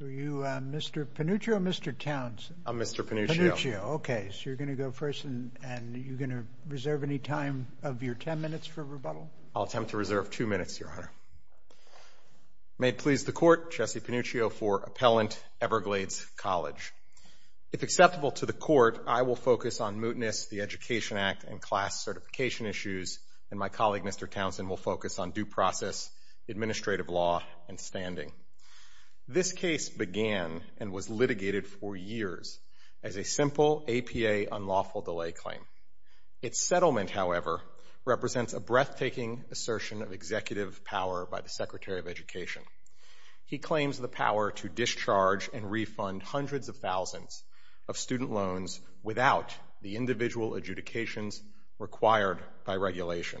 Mr. Panuccio or Mr. Townsend? I'm Mr. Panuccio. Okay, so you're going to go first, and you're going to reserve any time of your ten minutes for rebuttal? I'll attempt to reserve two minutes, Your Honor. May it please the Court, Jesse Panuccio for Appellant, Everglades College. If acceptable to the Court, I will focus on mootness, the Education Act, and class certification issues, and my colleague, Mr. Townsend, will focus on due process, administrative law, and standing. This case began and was litigated for years as a simple APA unlawful delay claim. Its settlement, however, represents a breathtaking assertion of executive power by the Secretary of Education. He claims the power to discharge and refund hundreds of thousands of student loans without the individual adjudications required by regulation.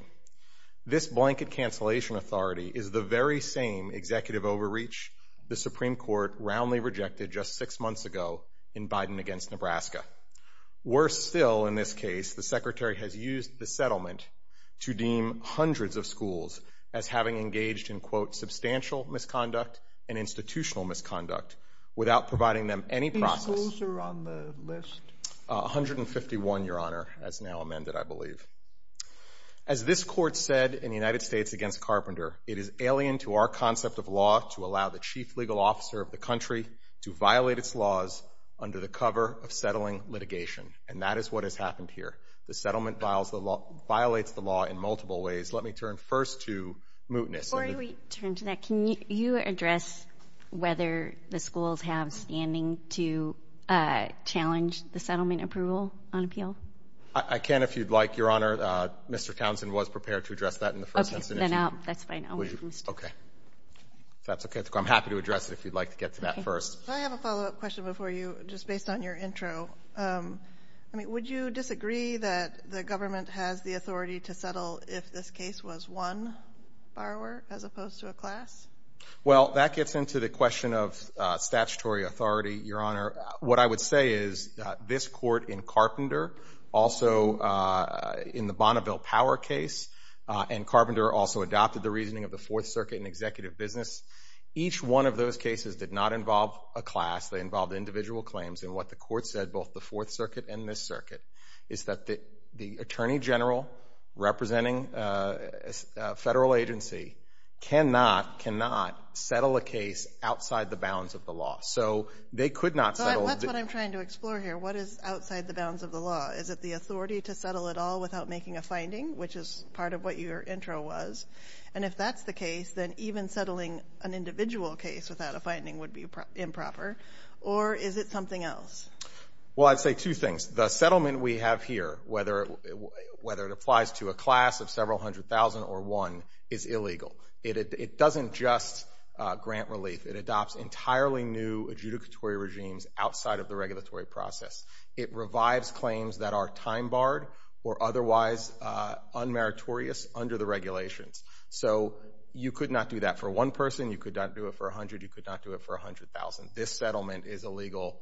This blanket cancellation authority is the very same executive overreach the Supreme Court roundly rejected just six months ago in Biden against Nebraska. Worse still, in this case, the Secretary has used the settlement to deem hundreds of schools as having engaged in, quote, substantial misconduct and institutional misconduct without providing them any process. How many schools are on the list? 151, Your Honor, as now amended, I believe. As this Court said in the United States against Carpenter, it is alien to our concept of law to allow the chief legal officer of the country to violate its laws under the cover of settling litigation. And that is what has happened here. The settlement violates the law in multiple ways. Let me turn first to mootness. Before we turn to that, can you address whether the schools have standing to challenge the settlement approval on appeal? I can, if you'd like, Your Honor. Mr. Townsend was prepared to address that in the first instance. Okay, then that's fine. Okay. That's okay. I'm happy to address it if you'd like to get to that first. Can I have a follow-up question before you, just based on your intro? I mean, would you disagree that the government has the authority to settle if this case was one borrower as opposed to a class? Well, that gets into the question of statutory authority, Your Honor. What I would say is this court in Carpenter, also in the Bonneville Power case, and Carpenter also adopted the reasoning of the Fourth Circuit in executive business. Each one of those cases did not involve a class. They involved individual claims. And what the court said, both the Fourth Circuit and this circuit, is that the attorney general representing a federal agency cannot settle a case outside the bounds of the law. So they could not settle. That's what I'm trying to explore here. What is outside the bounds of the law? Is it the authority to settle at all without making a finding, which is part of what your intro was? And if that's the case, then even settling an individual case without a finding would be improper. Or is it something else? Well, I'd say two things. The settlement we have here, whether it applies to a class of several hundred thousand or one, is illegal. It doesn't just grant relief. It adopts entirely new adjudicatory regimes outside of the regulatory process. It revives claims that are time-barred or otherwise unmeritorious under the regulations. So you could not do that for one person. You could not do it for a hundred. You could not do it for a hundred thousand. This settlement is illegal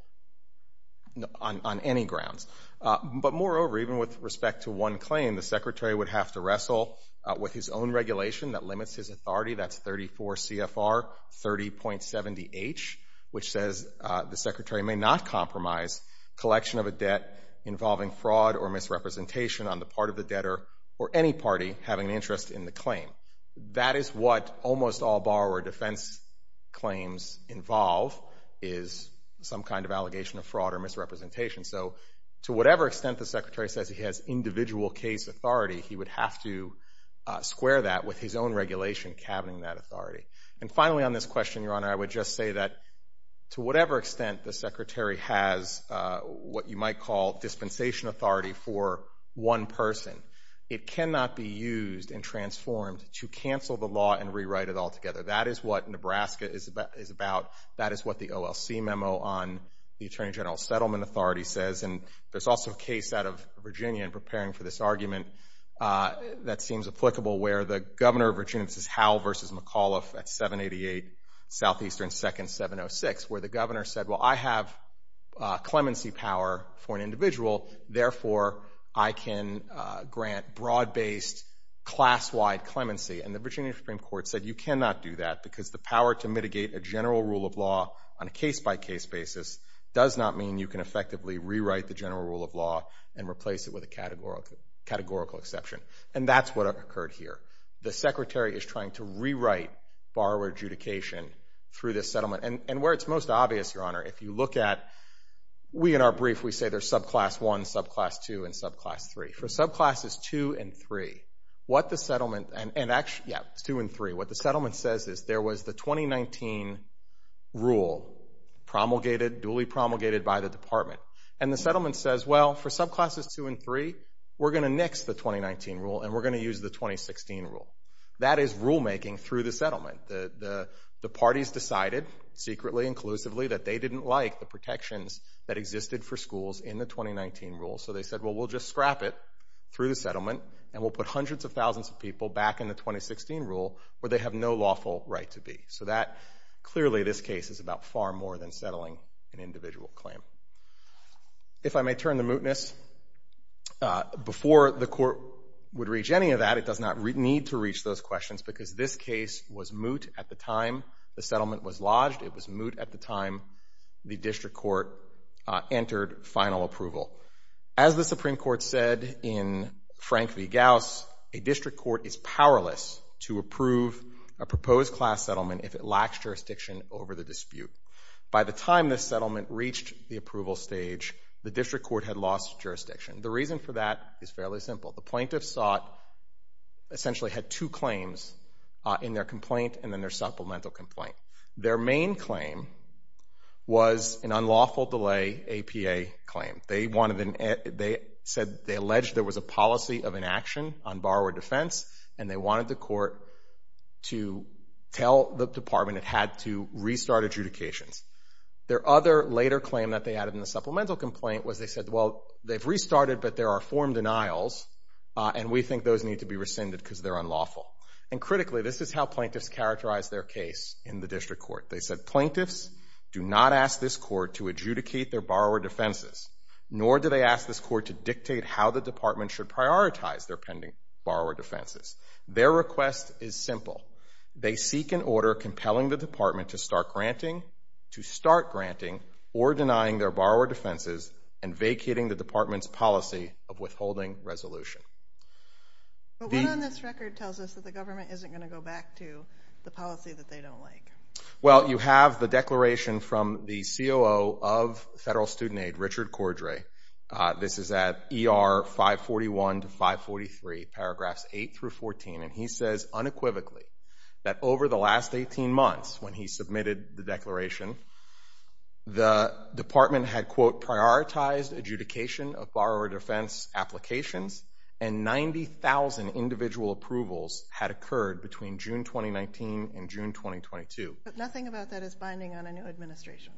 on any grounds. But moreover, even with respect to one claim, the secretary would have to wrestle with his own regulation that limits his authority. That's 34 CFR 30.70H, which says the secretary may not compromise collection of a debt involving fraud or misrepresentation on the part of the debtor or any party having an interest in the claim. That is what almost all borrower defense claims involve is some kind of allegation of fraud or misrepresentation. So to whatever extent the secretary says he has individual case authority, he would have to square that with his own regulation cabining that authority. And finally on this question, Your Honor, I would just say that to whatever extent the secretary has what you might call dispensation authority for one person, it cannot be used and transformed to cancel the law and rewrite it altogether. That is what Nebraska is about. That is what the OLC memo on the Attorney General Settlement Authority says. And there's also a case out of Virginia in preparing for this argument that seems applicable, where the governor of Virginia, this is Howell v. McAuliffe at 788 Southeastern 2nd 706, where the governor said, well, I have clemency power for an individual. Therefore, I can grant broad-based, class-wide clemency. And the Virginia Supreme Court said you cannot do that because the power to mitigate a general rule of law on a case-by-case basis does not mean you can effectively rewrite the general rule of law and replace it with a categorical exception. And that's what occurred here. The secretary is trying to rewrite borrower adjudication through this settlement. And where it's most obvious, Your Honor, if you look at, we in our brief, we say there's subclass 1, subclass 2, and subclass 3. For subclasses 2 and 3, what the settlement and actually, yeah, 2 and 3, what the settlement says is there was the 2019 rule promulgated, duly promulgated by the department. And the settlement says, well, for subclasses 2 and 3, we're going to nix the 2019 rule and we're going to use the 2016 rule. That is rulemaking through the settlement. The parties decided, secretly, inclusively, that they didn't like the protections that existed for schools in the 2019 rule. So they said, well, we'll just scrap it through the settlement and we'll put hundreds of thousands of people back in the 2016 rule where they have no lawful right to be. So that, clearly, this case is about far more than settling an individual claim. If I may turn to mootness, before the court would reach any of that, it does not need to reach those questions because this case was moot at the time the settlement was lodged. It was moot at the time the district court entered final approval. As the Supreme Court said in Frank v. Gauss, a district court is powerless to approve a proposed class settlement if it lacks jurisdiction over the dispute. By the time this settlement reached the approval stage, the district court had lost jurisdiction. The reason for that is fairly simple. The plaintiffs essentially had two claims in their complaint and then their supplemental complaint. Their main claim was an unlawful delay APA claim. They said they alleged there was a policy of inaction on borrower defense and they wanted the court to tell the department it had to restart adjudications. Their other later claim that they added in the supplemental complaint was they said, well, they've restarted but there are form denials and we think those need to be rescinded because they're unlawful. And critically, this is how plaintiffs characterize their case in the district court. They said plaintiffs do not ask this court to adjudicate their borrower defenses, nor do they ask this court to dictate how the department should prioritize their pending borrower defenses. Their request is simple. They seek an order compelling the department to start granting or denying their borrower defenses and vacating the department's policy of withholding resolution. But what on this record tells us that the government isn't going to go back to the policy that they don't like? Well, you have the declaration from the COO of Federal Student Aid, Richard Cordray. This is at ER 541 to 543, paragraphs 8 through 14, and he says unequivocally that over the last 18 months when he submitted the declaration, the department had, quote, prioritized adjudication of borrower defense applications and 90,000 individual approvals had occurred between June 2019 and June 2022. But nothing about that is binding on a new administration,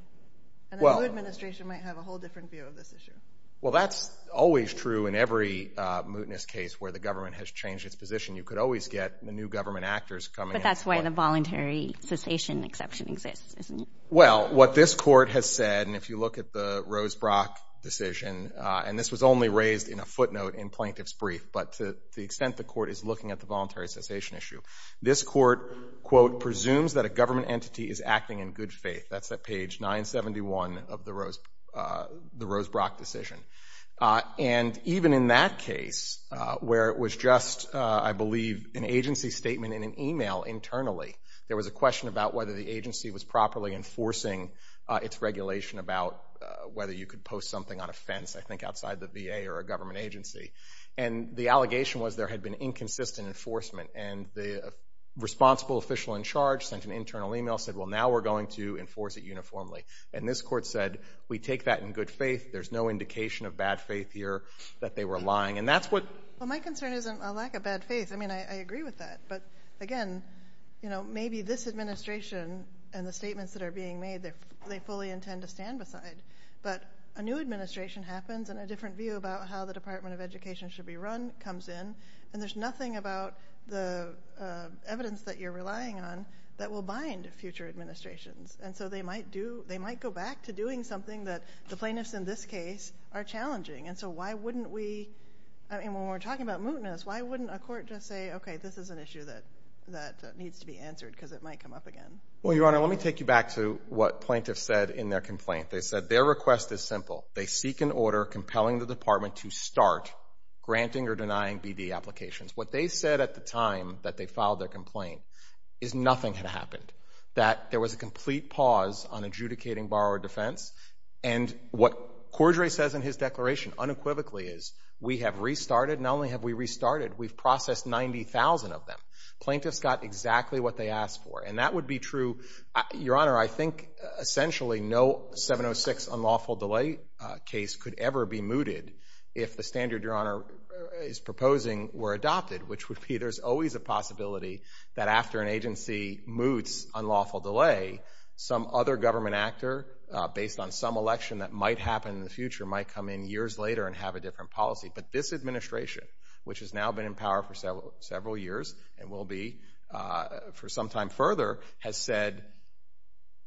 and a new administration might have a whole different view of this issue. Well, that's always true in every mootness case where the government has changed its position. You could always get the new government actors coming in. But that's why the voluntary cessation exception exists, isn't it? Well, what this court has said, and if you look at the Rosebrock decision, and this was only raised in a footnote in plaintiff's brief, but to the extent the court is looking at the voluntary cessation issue, this court, quote, presumes that a government entity is acting in good faith. That's at page 971 of the Rosebrock decision. And even in that case where it was just, I believe, an agency statement in an email internally, there was a question about whether the agency was properly enforcing its regulation about whether you could post something on a fence, I think, outside the VA or a government agency. And the allegation was there had been inconsistent enforcement, and the responsible official in charge sent an internal email, said, well, now we're going to enforce it uniformly. And this court said, we take that in good faith. There's no indication of bad faith here that they were lying. Well, my concern isn't a lack of bad faith. I mean, I agree with that. But, again, maybe this administration and the statements that are being made, they fully intend to stand beside. But a new administration happens, and a different view about how the Department of Education should be run comes in, and there's nothing about the evidence that you're relying on that will bind future administrations. And so they might go back to doing something that the plaintiffs in this case are challenging. And so why wouldn't we, I mean, when we're talking about mootness, why wouldn't a court just say, okay, this is an issue that needs to be answered, because it might come up again? Well, Your Honor, let me take you back to what plaintiffs said in their complaint. They said their request is simple. They seek an order compelling the department to start granting or denying BD applications. What they said at the time that they filed their complaint is nothing had happened, that there was a complete pause on adjudicating borrower defense. And what Cordray says in his declaration unequivocally is we have restarted. Not only have we restarted, we've processed 90,000 of them. Plaintiffs got exactly what they asked for, and that would be true. Your Honor, I think essentially no 706 unlawful delay case could ever be mooted if the standard Your Honor is proposing were adopted, which would be there's always a possibility that after an agency moots unlawful delay, some other government actor based on some election that might happen in the future might come in years later and have a different policy. But this administration, which has now been in power for several years and will be for some time further, has said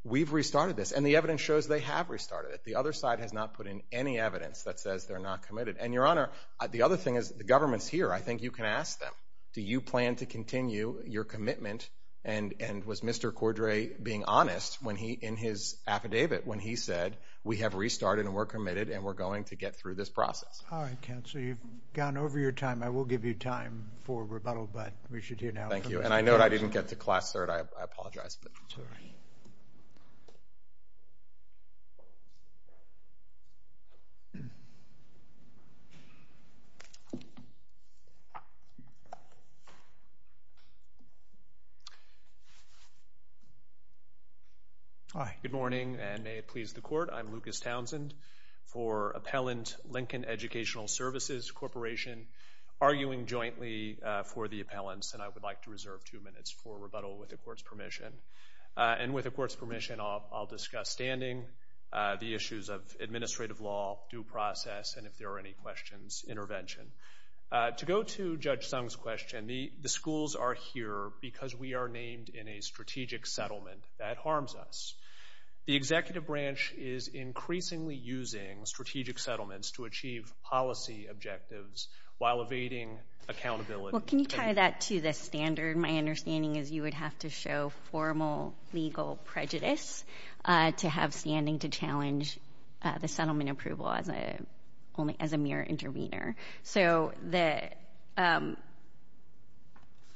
we've restarted this. And the evidence shows they have restarted it. The other side has not put in any evidence that says they're not committed. And, Your Honor, the other thing is the government's here. I think you can ask them, do you plan to continue your commitment? And was Mr. Cordray being honest in his affidavit when he said we have restarted and we're committed and we're going to get through this process? All right, counsel, you've gone over your time. I will give you time for rebuttal, but we should hear now from Mr. Cordray. Hi. Good morning, and may it please the Court. I'm Lucas Townsend for Appellant Lincoln Educational Services Corporation, arguing jointly for the appellants, and I would like to reserve two minutes for rebuttal with the Court's permission. And with the Court's permission, I'll discuss standing, the issues of administrative law, due process, and if there are any questions, intervention. To go to Judge Sung's question, the schools are here because we are named in a strategic settlement. That harms us. The executive branch is increasingly using strategic settlements to achieve policy objectives while evading accountability. Well, can you tie that to the standard? My understanding is you would have to show formal legal prejudice to have standing to challenge the settlement approval as a mere intervener.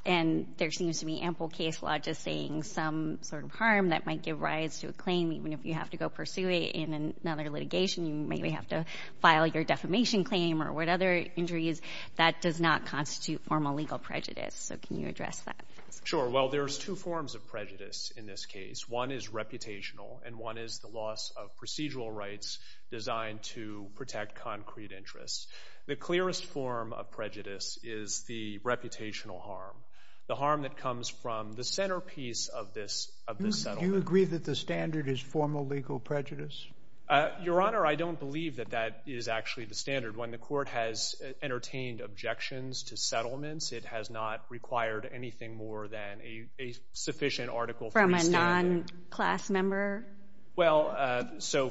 And there seems to be ample case law just saying some sort of harm that might give rise to a claim, even if you have to go pursue it in another litigation. You may have to file your defamation claim or what other injuries. That does not constitute formal legal prejudice, so can you address that? Sure. Well, there's two forms of prejudice in this case. One is reputational, and one is the loss of procedural rights designed to protect concrete interests. The clearest form of prejudice is the reputational harm, the harm that comes from the centerpiece of this settlement. Do you agree that the standard is formal legal prejudice? Your Honor, I don't believe that that is actually the standard. When the Court has entertained objections to settlements, it has not required anything more than a sufficient Article III standard. From a non-class member? Well, so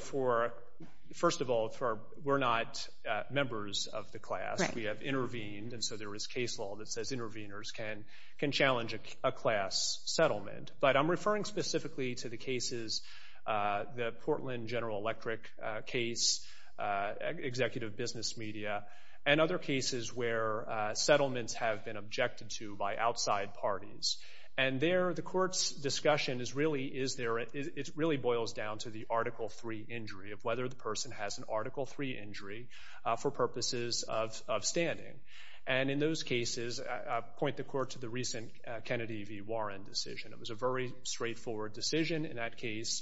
first of all, we're not members of the class. We have intervened, and so there is case law that says interveners can challenge a class settlement. But I'm referring specifically to the cases, the Portland General Electric case, executive business media, and other cases where settlements have been objected to by outside parties. And there, the Court's discussion really boils down to the Article III injury, of whether the person has an Article III injury for purposes of standing. And in those cases, I point the Court to the recent Kennedy v. Warren decision. It was a very straightforward decision in that case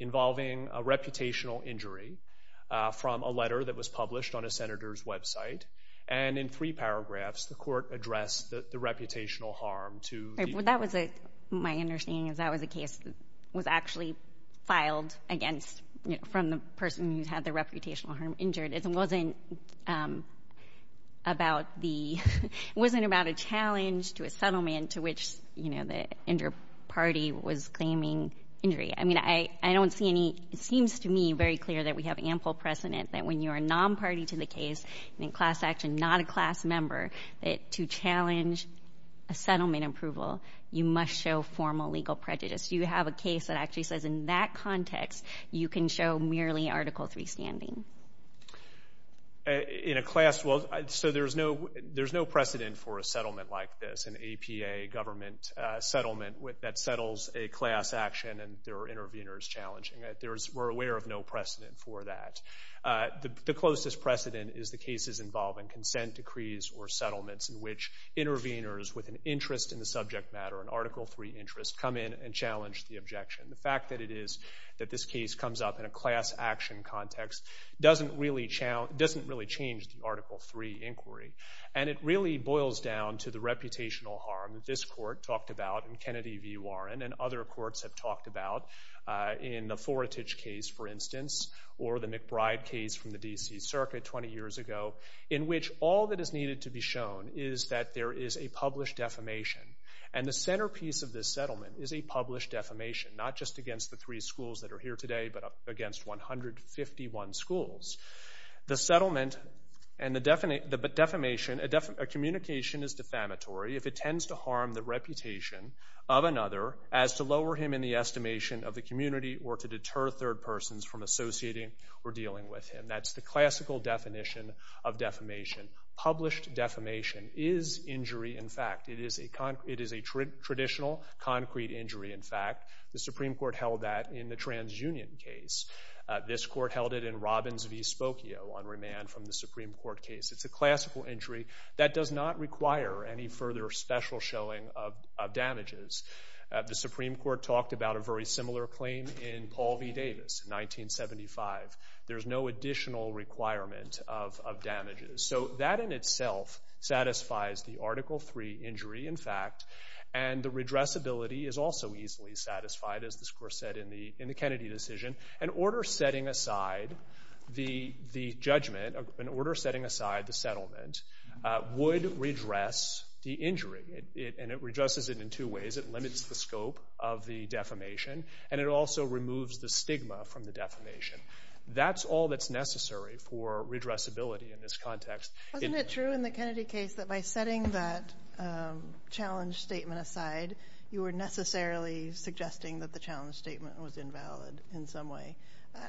involving a reputational injury from a letter that was published on a senator's website. And in three paragraphs, the Court addressed the reputational harm to the— Well, that was a—my understanding is that was a case that was actually filed against— from the person who had the reputational harm injured. It wasn't about the—it wasn't about a challenge to a settlement to which, you know, the inter-party was claiming injury. I mean, I don't see any—it seems to me very clear that we have ample precedent that when you are a non-party to the case and in class action, not a class member, that to challenge a settlement approval, you must show formal legal prejudice. You have a case that actually says in that context, you can show merely Article III standing. In a class—well, so there's no precedent for a settlement like this, an APA government settlement that settles a class action and there are interveners challenging it. There is—we're aware of no precedent for that. The closest precedent is the cases involving consent decrees or settlements in which interveners with an interest in the subject matter, an Article III interest, come in and challenge the objection. The fact that it is—that this case comes up in a class action context doesn't really challenge— doesn't really change the Article III inquiry. And it really boils down to the reputational harm that this court talked about and Kennedy v. Warren and other courts have talked about in the Foretich case, for instance, or the McBride case from the D.C. Circuit 20 years ago, in which all that is needed to be shown is that there is a published defamation. And the centerpiece of this settlement is a published defamation, not just against the three schools that are here today, but against 151 schools. The settlement and the defamation—a communication is defamatory if it tends to harm the reputation of another as to lower him in the estimation of the community or to deter third persons from associating or dealing with him. That's the classical definition of defamation. Published defamation is injury in fact. It is a traditional concrete injury in fact. The Supreme Court held that in the TransUnion case. This court held it in Robbins v. Spokio on remand from the Supreme Court case. It's a classical injury that does not require any further special showing of damages. The Supreme Court talked about a very similar claim in Paul v. Davis in 1975. There's no additional requirement of damages. So that in itself satisfies the Article III injury in fact, and the redressability is also easily satisfied as the court said in the Kennedy decision. An order setting aside the judgment, an order setting aside the settlement, would redress the injury. And it redresses it in two ways. It limits the scope of the defamation, and it also removes the stigma from the defamation. That's all that's necessary for redressability in this context. Wasn't it true in the Kennedy case that by setting that challenge statement aside, you were necessarily suggesting that the challenge statement was invalid in some way?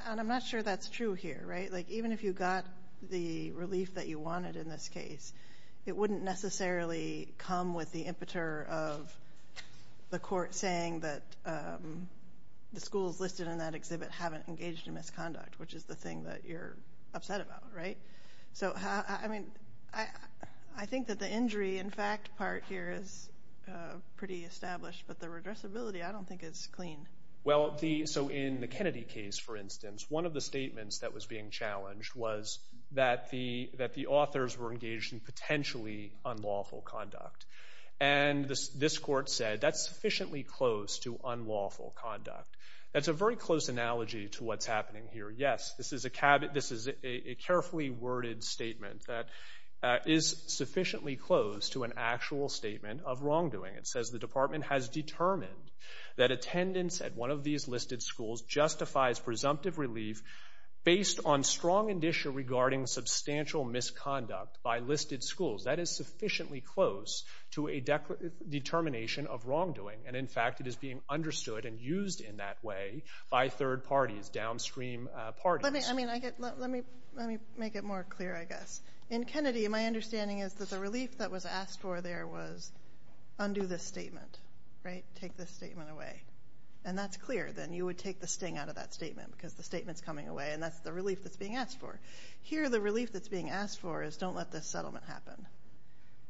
And I'm not sure that's true here, right? Like even if you got the relief that you wanted in this case, it wouldn't necessarily come with the impeter of the court saying that the schools listed in that exhibit haven't engaged in misconduct, which is the thing that you're upset about, right? So, I mean, I think that the injury in fact part here is pretty established, but the redressability I don't think is clean. Well, so in the Kennedy case, for instance, one of the statements that was being challenged was that the authors were engaged in potentially unlawful conduct. And this court said that's sufficiently close to unlawful conduct. That's a very close analogy to what's happening here. Yes, this is a carefully worded statement that is sufficiently close to an actual statement of wrongdoing. It says the department has determined that attendance at one of these listed schools justifies presumptive relief based on strong indicia regarding substantial misconduct by listed schools. That is sufficiently close to a determination of wrongdoing. And, in fact, it is being understood and used in that way by third parties, downstream parties. Let me make it more clear, I guess. In Kennedy, my understanding is that the relief that was asked for there was undo this statement, right? Take this statement away. And that's clear. Then you would take the sting out of that statement because the statement's coming away, and that's the relief that's being asked for. Here, the relief that's being asked for is don't let this settlement happen.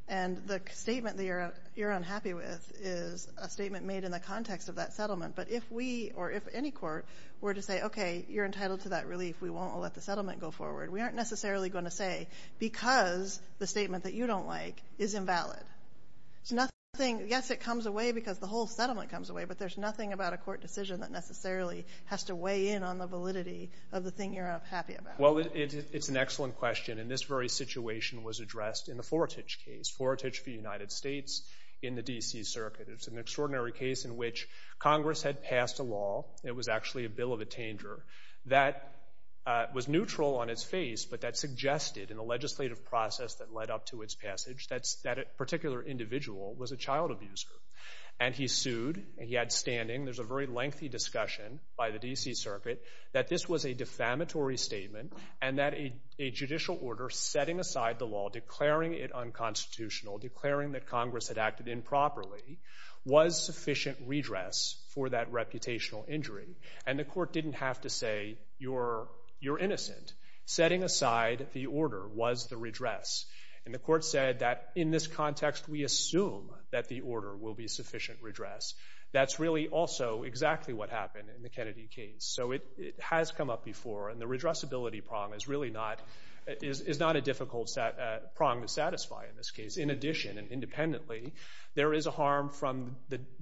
And the statement that you're unhappy with is a statement made in the context of that settlement. But if we or if any court were to say, okay, you're entitled to that relief, we won't let the settlement go forward, we aren't necessarily going to say because the statement that you don't like is invalid. Yes, it comes away because the whole settlement comes away, but there's nothing about a court decision that necessarily has to weigh in on the validity of the thing you're happy about. Well, it's an excellent question. And this very situation was addressed in the Fortich case, Fortich v. United States in the D.C. Circuit. It's an extraordinary case in which Congress had passed a law. It was actually a bill of a tanger that was neutral on its face, but that suggested in a legislative process that led up to its passage that a particular individual was a child abuser. And he sued. He had standing. There's a very lengthy discussion by the D.C. Circuit that this was a defamatory statement and that a judicial order setting aside the law, declaring it unconstitutional, declaring that Congress had acted improperly, was sufficient redress for that reputational injury. And the court didn't have to say, you're innocent. Setting aside the order was the redress. And the court said that in this context, we assume that the order will be sufficient redress. That's really also exactly what happened in the Kennedy case. So it has come up before, and the redressability prong is really not a difficult prong to satisfy in this case. In addition, and independently, there is a harm from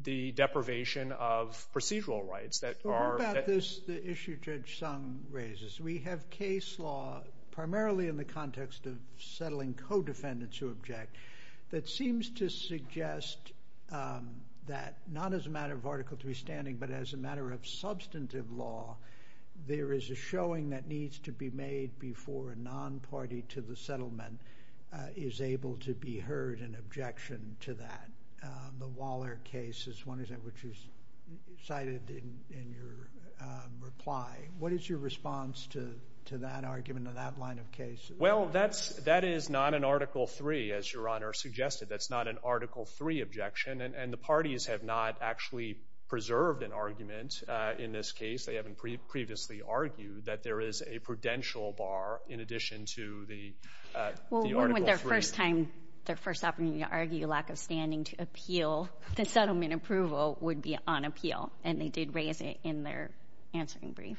the deprivation of procedural rights that are- What about this issue Judge Sung raises? We have case law, primarily in the context of settling co-defendants who object, that seems to suggest that not as a matter of Article III standing, but as a matter of substantive law, there is a showing that needs to be made before a non-party to the settlement is able to be heard in objection to that. The Waller case is one which is cited in your reply. What is your response to that argument, to that line of case? Well, that is not an Article III, as Your Honor suggested. That's not an Article III objection, and the parties have not actually preserved an argument in this case. They haven't previously argued that there is a prudential bar in addition to the Article III. When would their first time, their first opportunity to argue a lack of standing to appeal the settlement approval would be on appeal? And they did raise it in their answering brief.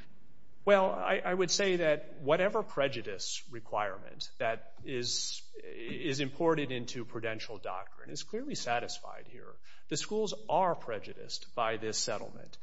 Well, I would say that whatever prejudice requirement that is imported into prudential doctrine is clearly satisfied here. The schools are prejudiced by this settlement.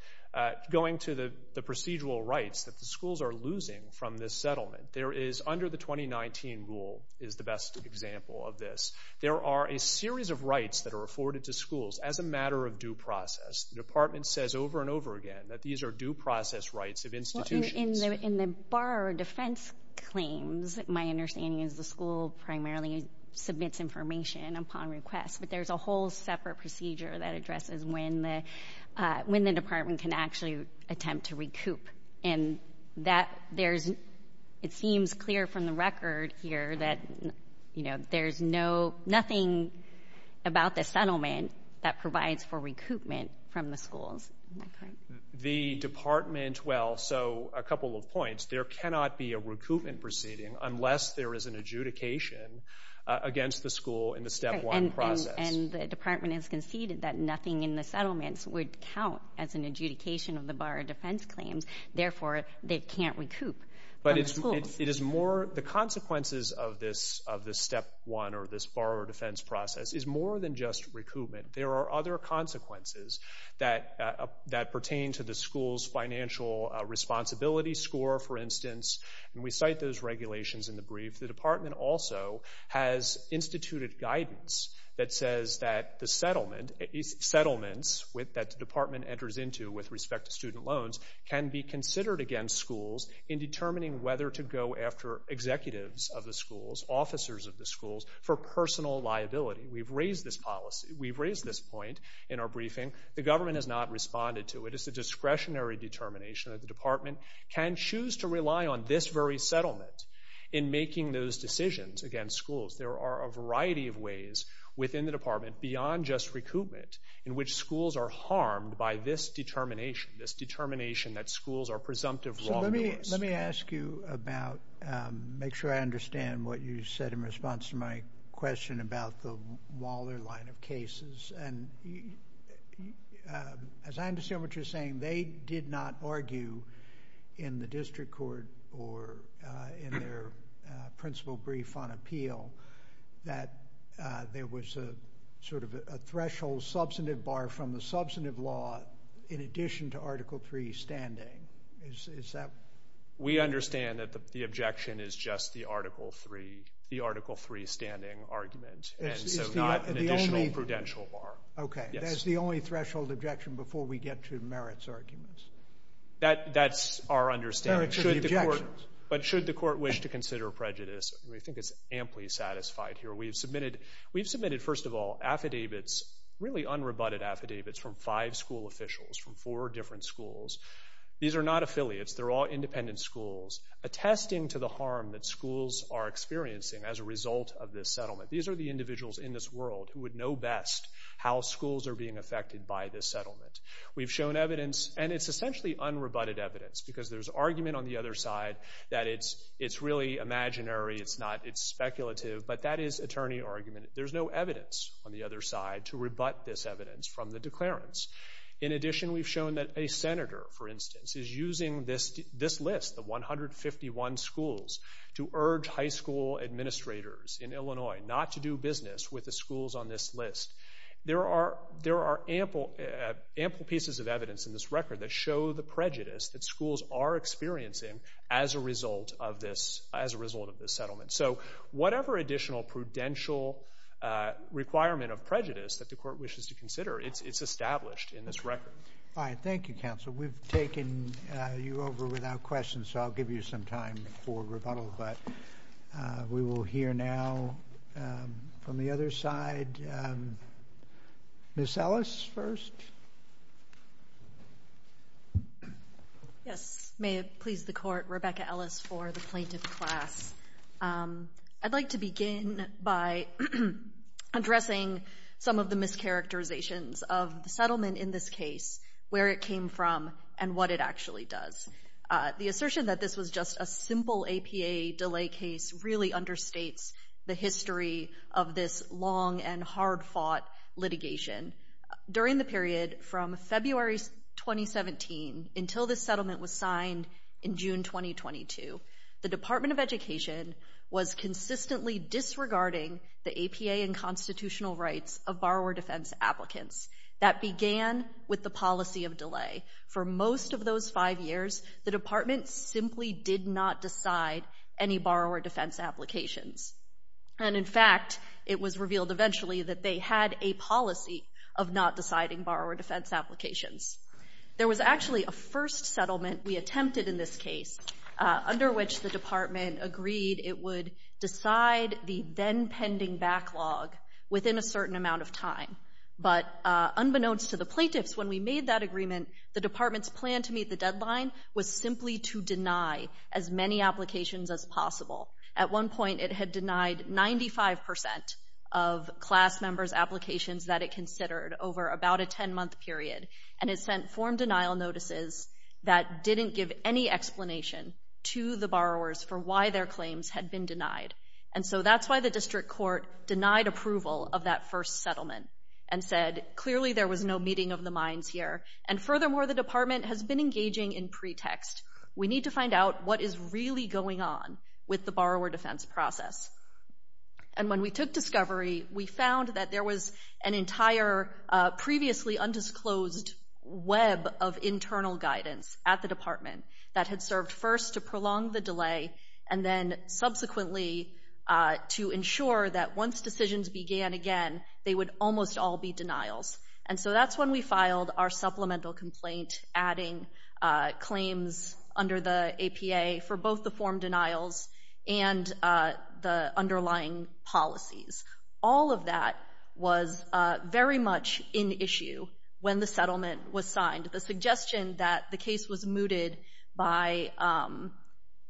Going to the procedural rights that the schools are losing from this settlement, there is under the 2019 rule is the best example of this. There are a series of rights that are afforded to schools as a matter of due process. The Department says over and over again that these are due process rights of institutions. Well, in the bar defense claims, my understanding is the school primarily submits information upon request, but there's a whole separate procedure that addresses when the Department can actually attempt to recoup. And it seems clear from the record here that there's nothing about the settlement that provides for recoupment from the schools. The Department, well, so a couple of points. There cannot be a recoupment proceeding unless there is an adjudication against the school in the step one process. And the Department has conceded that nothing in the settlements would count as an adjudication of the bar defense claims. Therefore, they can't recoup from the schools. The consequences of this step one or this bar defense process is more than just recoupment. There are other consequences that pertain to the school's financial responsibility score, for instance. And we cite those regulations in the brief. The Department also has instituted guidance that says that the settlements that the Department enters into with respect to student loans can be considered against schools in determining whether to go after executives of the schools, officers of the schools, for personal liability. We've raised this policy. We've raised this point in our briefing. The government has not responded to it. It's a discretionary determination that the Department can choose to rely on this very settlement in making those decisions against schools. There are a variety of ways within the Department beyond just recoupment in which schools are harmed by this determination, this determination that schools are presumptive wrongdoers. Let me ask you about, make sure I understand what you said in response to my question about the Waller line of cases. And as I understand what you're saying, they did not argue in the district court or in their principal brief on appeal that there was a sort of a threshold substantive bar from the substantive law in addition to Article III standing. Is that? We understand that the objection is just the Article III standing argument. And so not an additional prudential bar. Okay. That's the only threshold objection before we get to Merritt's arguments. That's our understanding. But should the court wish to consider prejudice, we think it's amply satisfied here. We've submitted, first of all, affidavits, really unrebutted affidavits from five school officials from four different schools. These are not affiliates. They're all independent schools attesting to the harm that schools are experiencing as a result of this settlement. These are the individuals in this world who would know best how schools are being affected by this settlement. We've shown evidence, and it's essentially unrebutted evidence because there's argument on the other side that it's really imaginary. It's speculative. But that is attorney argument. There's no evidence on the other side to rebut this evidence from the declarants. In addition, we've shown that a senator, for instance, is using this list, the 151 schools, to urge high school administrators in Illinois not to do business with the schools on this list. There are ample pieces of evidence in this record that show the prejudice that schools are experiencing as a result of this settlement. So whatever additional prudential requirement of prejudice that the court wishes to consider, it's established in this record. All right. Thank you, counsel. We've taken you over without question, so I'll give you some time for rebuttal. But we will hear now from the other side. Ms. Ellis first. Yes. May it please the court, Rebecca Ellis for the plaintiff class. I'd like to begin by addressing some of the mischaracterizations of the settlement in this case, where it came from, and what it actually does. The assertion that this was just a simple APA delay case really understates the history of this long and hard-fought litigation. During the period from February 2017 until this settlement was signed in June 2022, the Department of Education was consistently disregarding the APA and constitutional rights of borrower defense applicants. That began with the policy of delay. For most of those five years, the department simply did not decide any borrower defense applications. And, in fact, it was revealed eventually that they had a policy of not deciding borrower defense applications. There was actually a first settlement we attempted in this case, under which the department agreed it would decide the then-pending backlog within a certain amount of time. But unbeknownst to the plaintiffs, when we made that agreement, the department's plan to meet the deadline was simply to deny as many applications as possible. At one point, it had denied 95% of class members' applications that it considered over about a 10-month period, and it sent form denial notices that didn't give any explanation to the borrowers for why their claims had been denied. And so that's why the district court denied approval of that first settlement and said, clearly there was no meeting of the minds here. And furthermore, the department has been engaging in pretext. We need to find out what is really going on with the borrower defense process. And when we took discovery, we found that there was an entire previously undisclosed web of internal guidance at the department that had served first to prolong the delay and then subsequently to ensure that once decisions began again, they would almost all be denials. And so that's when we filed our supplemental complaint, adding claims under the APA for both the form denials and the underlying policies. All of that was very much in issue when the settlement was signed. The suggestion that the case was mooted by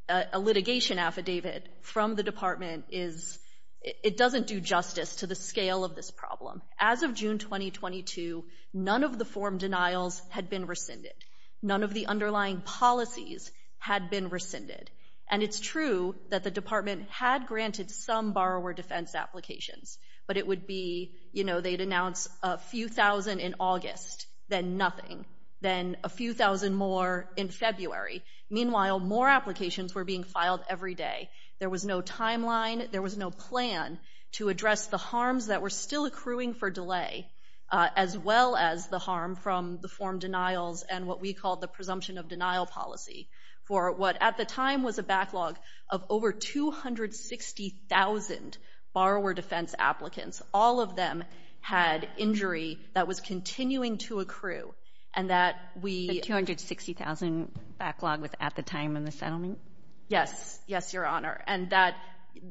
a litigation affidavit from the department is, it doesn't do justice to the scale of this problem. As of June 2022, none of the form denials had been rescinded. None of the underlying policies had been rescinded. And it's true that the department had granted some borrower defense applications, but it would be, you know, they'd announce a few thousand in August, then nothing, then a few thousand more in February. Meanwhile, more applications were being filed every day. There was no timeline. There was no plan to address the harms that were still accruing for delay, as well as the harm from the form denials and what we called the presumption of denial policy for what at the time was a backlog of over 260,000 borrower defense applicants. All of them had injury that was continuing to accrue, and that we— The 260,000 backlog was at the time in the settlement? Yes. Yes, Your Honor. And that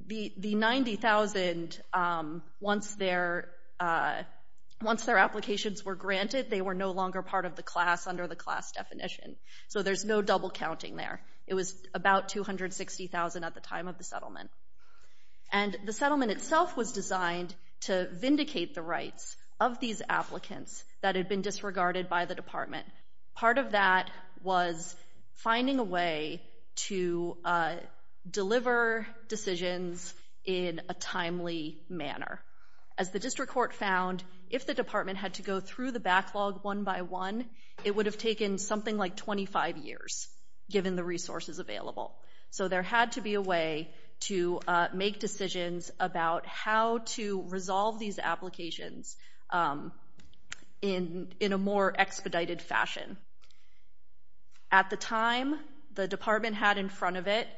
the 90,000, once their applications were granted, they were no longer part of the class under the class definition. So there's no double counting there. It was about 260,000 at the time of the settlement. And the settlement itself was designed to vindicate the rights of these applicants that had been disregarded by the department. Part of that was finding a way to deliver decisions in a timely manner. As the district court found, if the department had to go through the backlog one by one, it would have taken something like 25 years, given the resources available. So there had to be a way to make decisions about how to resolve these applications in a more expedited fashion. At the time, the department had in front of it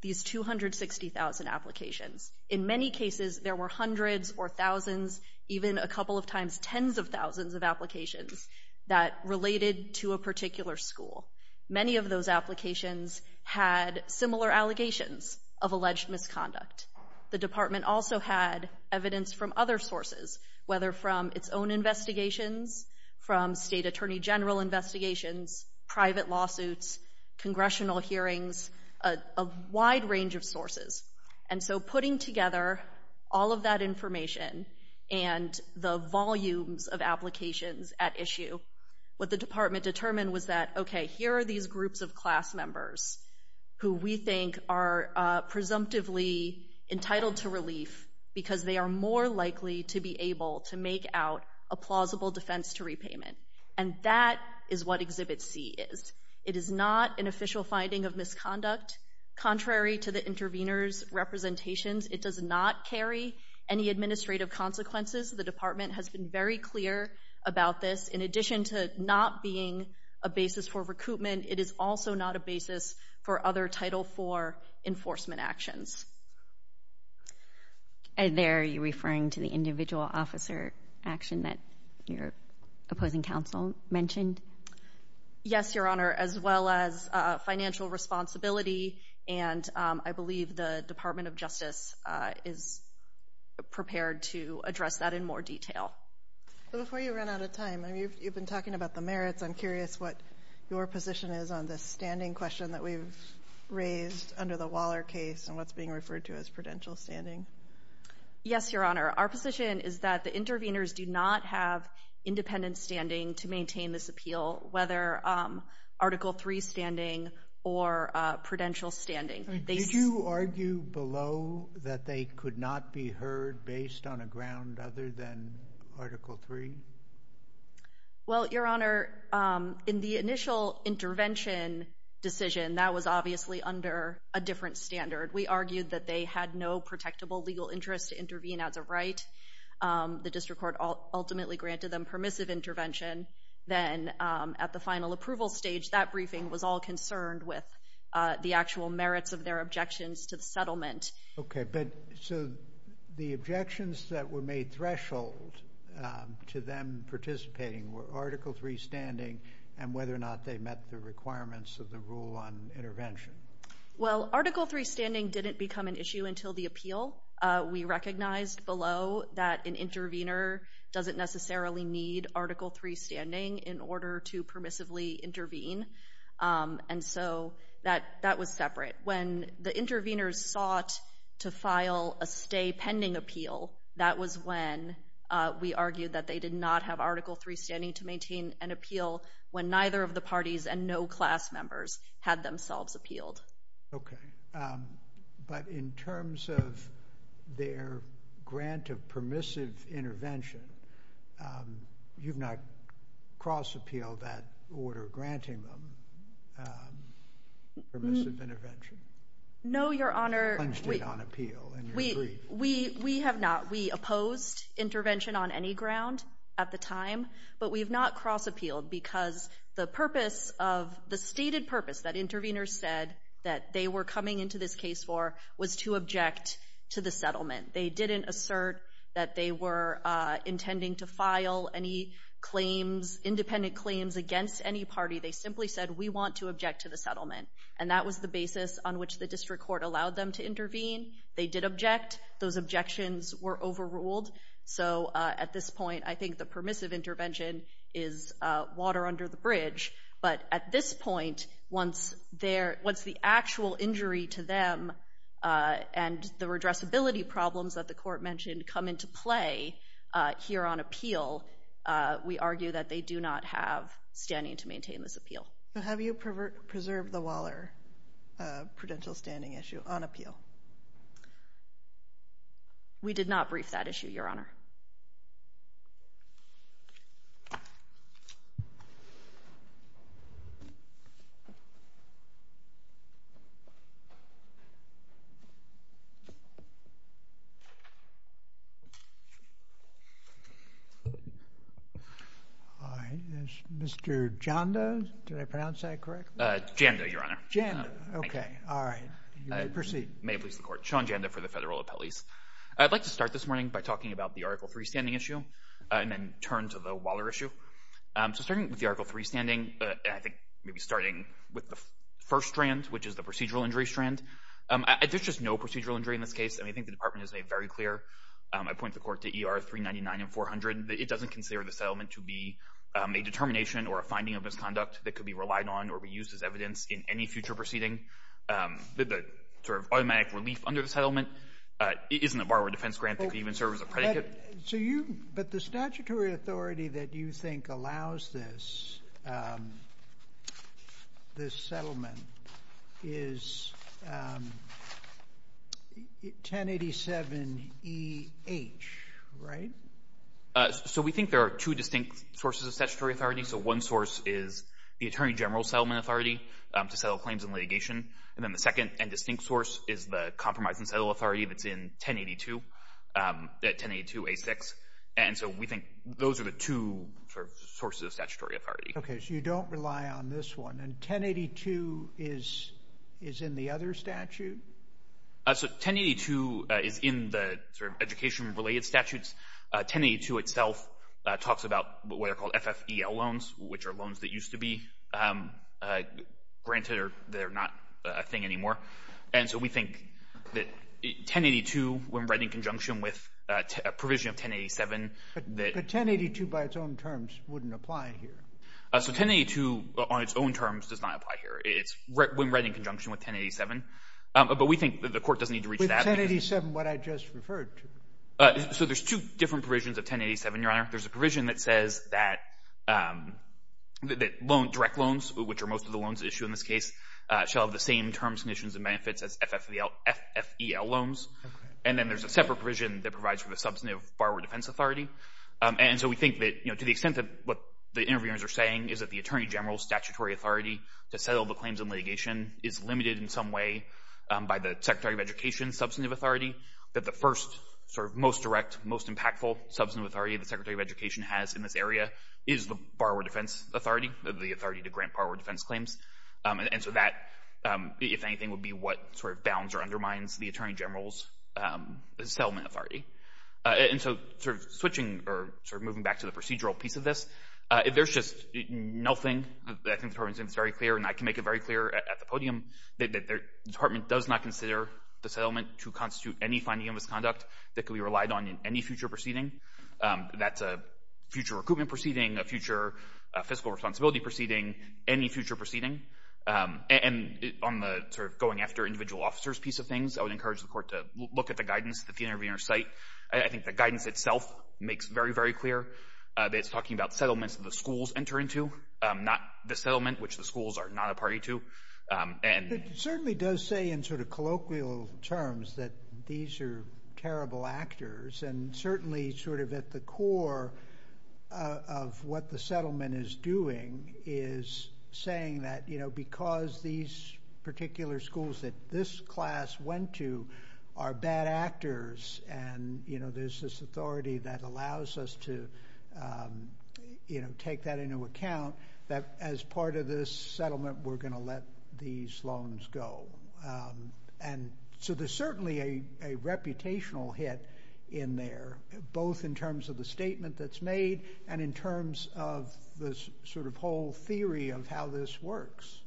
these 260,000 applications. In many cases, there were hundreds or thousands, even a couple of times tens of thousands of applications that related to a particular school. Many of those applications had similar allegations of alleged misconduct. The department also had evidence from other sources, whether from its own investigations, from state attorney general investigations, private lawsuits, congressional hearings, a wide range of sources. And so putting together all of that information and the volumes of applications at issue, what the department determined was that, okay, here are these groups of class members who we think are presumptively entitled to relief because they are more likely to be able to make out a plausible defense to repayment. And that is what Exhibit C is. It is not an official finding of misconduct. Contrary to the intervener's representations, it does not carry any administrative consequences. The department has been very clear about this. In addition to not being a basis for recoupment, it is also not a basis for other Title IV enforcement actions. And there you're referring to the individual officer action that your opposing counsel mentioned? Yes, Your Honor, as well as financial responsibility. And I believe the Department of Justice is prepared to address that in more detail. Before you run out of time, you've been talking about the merits. I'm curious what your position is on this standing question that we've raised under the Waller case and what's being referred to as prudential standing. Yes, Your Honor. Our position is that the interveners do not have independent standing to maintain this appeal, whether Article III standing or prudential standing. Did you argue below that they could not be heard based on a ground other than Article III? Well, Your Honor, in the initial intervention decision, that was obviously under a different standard. We argued that they had no protectable legal interest to intervene as a right. The district court ultimately granted them permissive intervention. Then at the final approval stage, that briefing was all concerned with the actual merits of their objections to the settlement. Okay. So the objections that were made threshold to them participating were Article III standing and whether or not they met the requirements of the rule on intervention. Well, Article III standing didn't become an issue until the appeal. We recognized below that an intervener doesn't necessarily need Article III standing in order to permissively intervene, and so that was separate. When the interveners sought to file a stay pending appeal, that was when we argued that they did not have Article III standing to maintain an appeal when neither of the parties and no class members had themselves appealed. Okay. But in terms of their grant of permissive intervention, you've not cross-appealed that order granting them permissive intervention? No, Your Honor. You plunged it on appeal and you agreed. We have not. We opposed intervention on any ground at the time, but we've not cross-appealed because the stated purpose that interveners said that they were coming into this case for was to object to the settlement. They didn't assert that they were intending to file any claims, independent claims, against any party. They simply said, we want to object to the settlement, and that was the basis on which the district court allowed them to intervene. They did object. Those objections were overruled. So at this point, I think the permissive intervention is water under the bridge, but at this point, once the actual injury to them and the redressability problems that the court mentioned come into play here on appeal, we argue that they do not have standing to maintain this appeal. So have you preserved the Waller prudential standing issue on appeal? We did not brief that issue, Your Honor. All right. Mr. Jando, did I pronounce that correctly? Jando, Your Honor. Jando. Okay. All right. Proceed. May it please the Court. Sean Jando for the Federal Appellees. I'd like to start this morning by talking about the Article III standing issue and then turn to the Waller issue. So starting with the Article III standing, I think maybe starting with the first strand, which is the procedural injury strand, there's just no procedural injury in this case. I think the Department has made very clear, I point the Court to ER 399 and 400, that it doesn't consider the settlement to be a determination or a finding of misconduct that could be relied on or be used as evidence in any future proceeding. The sort of automatic relief under the settlement isn't a borrower defense grant that could even serve as a predicate. But the statutory authority that you think allows this settlement is 1087EH, right? So we think there are two distinct sources of statutory authority. So one source is the Attorney General Settlement Authority to settle claims in litigation. And then the second and distinct source is the Compromise and Settle Authority that's in 1082, 1082A6. And so we think those are the two sources of statutory authority. Okay. So you don't rely on this one. And 1082 is in the other statute? So 1082 is in the education-related statutes. 1082 itself talks about what are called FFEL loans, which are loans that used to be granted or they're not a thing anymore. And so we think that 1082, when read in conjunction with a provision of 1087, that — But 1082 by its own terms wouldn't apply here. So 1082 on its own terms does not apply here. It's when read in conjunction with 1087. But we think that the Court doesn't need to reach that. With 1087, what I just referred to. So there's two different provisions of 1087, Your Honor. There's a provision that says that direct loans, which are most of the loans at issue in this case, shall have the same terms, conditions, and benefits as FFEL loans. And then there's a separate provision that provides for the Substantive Borrower Defense Authority. And so we think that, you know, to the extent that what the interviewers are saying is that the Attorney General's statutory authority to settle the claims in litigation is limited in some way by the Secretary of Education's Substantive Authority, that the first sort of most direct, most impactful Substantive Authority the Secretary of Education has in this area is the Borrower Defense Authority, the authority to grant borrower defense claims. And so that, if anything, would be what sort of bounds or undermines the Attorney General's settlement authority. And so sort of switching or sort of moving back to the procedural piece of this, there's just nothing. I think the Department of Justice is very clear, and I can make it very clear at the podium, that the Department does not consider the settlement to constitute any finding of misconduct that could be relied on in any future proceeding. That's a future recruitment proceeding, a future fiscal responsibility proceeding, any future proceeding. And on the sort of going after individual officers piece of things, I would encourage the Court to look at the guidance that the interviewers cite. I think the guidance itself makes very, very clear that it's talking about settlements that the schools enter into, not the settlement, which the schools are not a party to. It certainly does say in sort of colloquial terms that these are terrible actors, and certainly sort of at the core of what the settlement is doing is saying that, you know, because these particular schools that this class went to are bad actors, and, you know, there's this authority that allows us to, you know, take that into account, that as part of this settlement we're going to let these loans go. And so there's certainly a reputational hit in there, both in terms of the statement that's made and in terms of this sort of whole theory of how this works.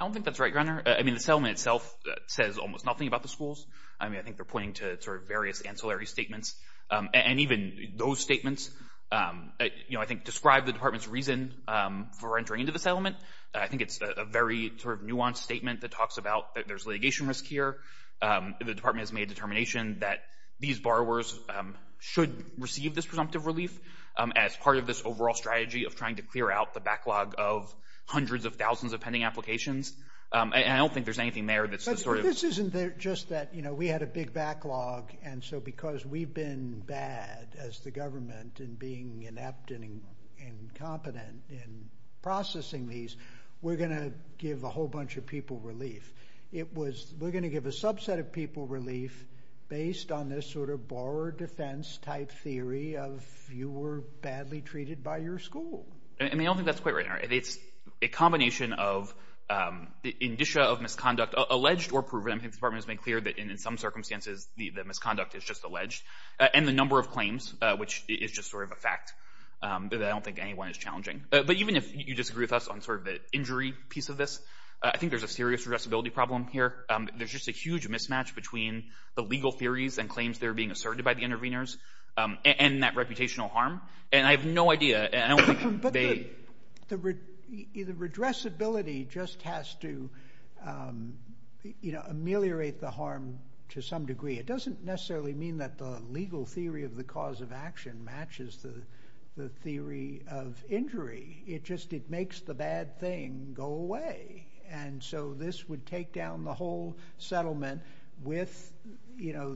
I don't think that's right, Your Honor. I mean, the settlement itself says almost nothing about the schools. I mean, I think they're pointing to sort of various ancillary statements, and even those statements, you know, I think describe the Department's reason for entering into the settlement. I think it's a very sort of nuanced statement that talks about that there's litigation risk here. The Department has made a determination that these borrowers should receive this presumptive relief as part of this overall strategy of trying to clear out the backlog of hundreds of thousands of pending applications. And I don't think there's anything there that's the sort of— But this isn't just that, you know, we had a big backlog, and so because we've been bad as the government in being inept and incompetent in processing these, we're going to give a whole bunch of people relief. We're going to give a subset of people relief based on this sort of borrower defense-type theory of you were badly treated by your school. I mean, I don't think that's quite right, Your Honor. It's a combination of the indicia of misconduct, alleged or proven. I think the Department has made clear that in some circumstances the misconduct is just alleged, and the number of claims, which is just sort of a fact that I don't think anyone is challenging. But even if you disagree with us on sort of the injury piece of this, I think there's a serious addressability problem here. There's just a huge mismatch between the legal theories and claims that are being asserted by the interveners and that reputational harm, and I have no idea. But the redressability just has to ameliorate the harm to some degree. It doesn't necessarily mean that the legal theory of the cause of action matches the theory of injury. It just makes the bad thing go away, and so this would take down the whole settlement with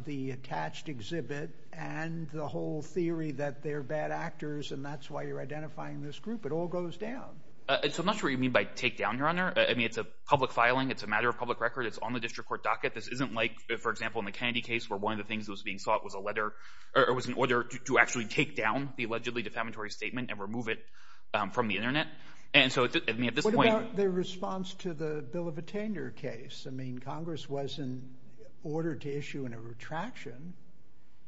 the attached exhibit and the whole theory that they're bad actors and that's why you're identifying this group. It all goes down. So I'm not sure what you mean by take down, Your Honor. I mean, it's a public filing. It's a matter of public record. It's on the district court docket. This isn't like, for example, in the Kennedy case where one of the things that was being sought was a letter or was an order to actually take down the allegedly defamatory statement and remove it from the Internet. And so, I mean, at this point— What about their response to the Bill of Attainment case? I mean, Congress wasn't ordered to issue a retraction.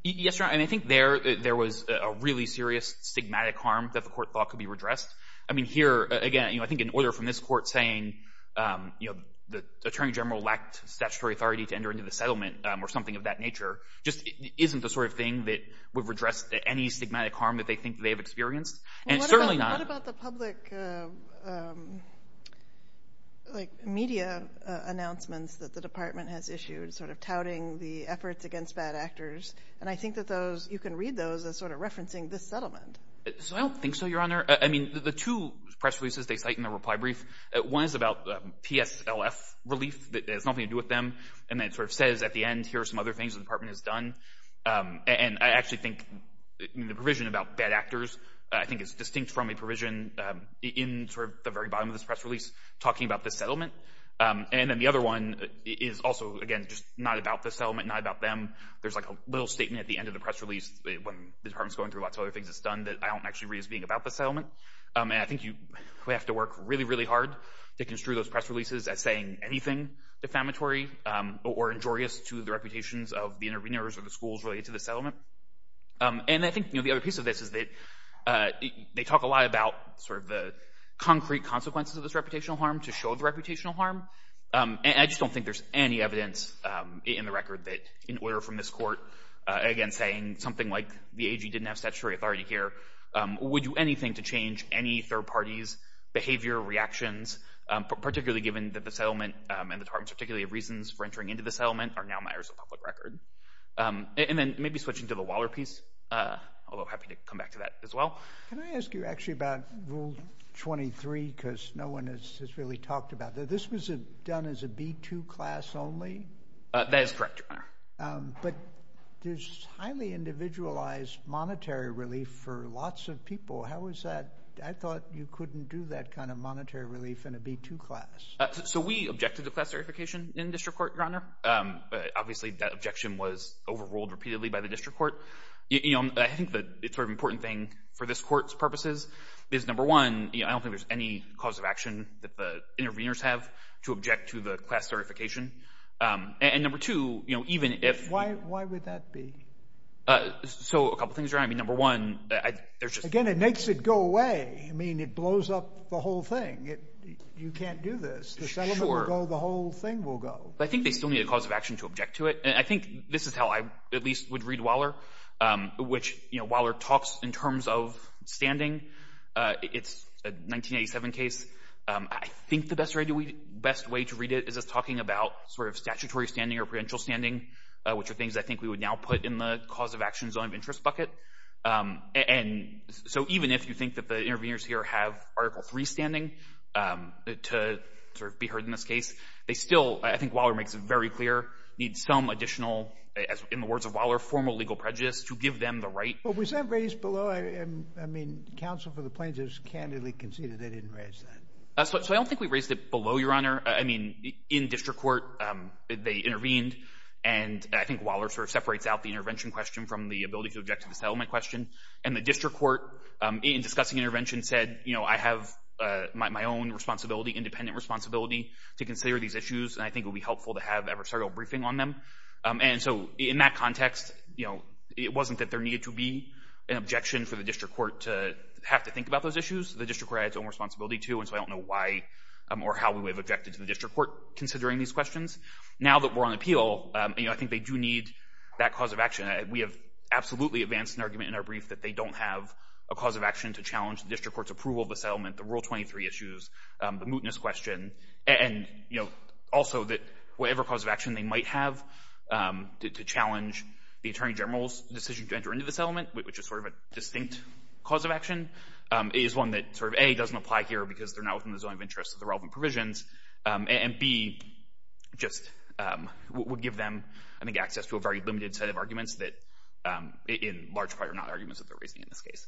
Yes, Your Honor, and I think there was a really serious stigmatic harm that the court thought could be redressed. I mean, here, again, I think an order from this court saying, you know, the Attorney General lacked statutory authority to enter into the settlement or something of that nature just isn't the sort of thing that would redress any stigmatic harm that they think they've experienced, and it's certainly not— What about the public, like, media announcements that the department has issued sort of touting the efforts against bad actors? And I think that those—you can read those as sort of referencing this settlement. So I don't think so, Your Honor. I mean, the two press releases they cite in the reply brief, one is about PSLF relief. It has nothing to do with them. And then it sort of says at the end, here are some other things the department has done. And I actually think the provision about bad actors I think is distinct from a provision in sort of the very bottom of this press release talking about this settlement. And then the other one is also, again, just not about this settlement, not about them. There's like a little statement at the end of the press release when the department's going through lots of other things it's done that I don't actually read as being about this settlement. And I think we have to work really, really hard to construe those press releases as saying anything defamatory or injurious to the reputations of the interveners or the schools related to this settlement. And I think, you know, the other piece of this is that they talk a lot about sort of the concrete consequences of this reputational harm to show the reputational harm. And I just don't think there's any evidence in the record that in order from this court, again, saying something like the AG didn't have statutory authority here would do anything to change any third party's behavior, reactions, particularly given that the settlement and the department's articulated reasons for entering into the settlement are now matters of public record. And then maybe switching to the Waller piece, although happy to come back to that as well. Can I ask you actually about Rule 23? Because no one has really talked about that. This was done as a B2 class only? That is correct, Your Honor. But there's highly individualized monetary relief for lots of people. How is that? I thought you couldn't do that kind of monetary relief in a B2 class. So we objected to class certification in district court, Your Honor. Obviously, that objection was overruled repeatedly by the district court. I think the sort of important thing for this court's purposes is, number one, I don't think there's any cause of action that the interveners have to object to the class certification. And number two, even if— Why would that be? So a couple things, Your Honor. I mean, number one, there's just— Again, it makes it go away. I mean, it blows up the whole thing. You can't do this. The settlement will go. The whole thing will go. But I think they still need a cause of action to object to it. And I think this is how I at least would read Waller, which, you know, Waller talks in terms of standing. It's a 1987 case. I think the best way to read it is as talking about sort of statutory standing or prudential standing, which are things I think we would now put in the cause of action zone of interest bucket. And so even if you think that the interveners here have Article III standing to sort of be heard in this case, they still—I think Waller makes it very clear—need some additional, in the words of Waller, formal legal prejudice to give them the right— But was that raised below? I mean, counsel for the plaintiffs candidly conceded they didn't raise that. So I don't think we raised it below, Your Honor. I mean, in district court, they intervened. And I think Waller sort of separates out the intervention question from the ability to object to the settlement question. And the district court, in discussing intervention, said, you know, I have my own responsibility, independent responsibility, to consider these issues, and I think it would be helpful to have adversarial briefing on them. And so in that context, you know, it wasn't that there needed to be an objection for the district court to have to think about those issues. The district court had its own responsibility, too, and so I don't know why or how we would have objected to the district court considering these questions. Now that we're on appeal, you know, I think they do need that cause of action. We have absolutely advanced an argument in our brief that they don't have a cause of action to challenge the district court's approval of the settlement, the Rule 23 issues, the mootness question, and, you know, also that whatever cause of action they might have to challenge the Attorney General's decision to enter into the settlement, which is sort of a distinct cause of action, is one that sort of, A, doesn't apply here because they're not within the zone of interest of the relevant provisions, and, B, just would give them, I think, access to a very limited set of arguments that, in large part, are not arguments that they're raising in this case.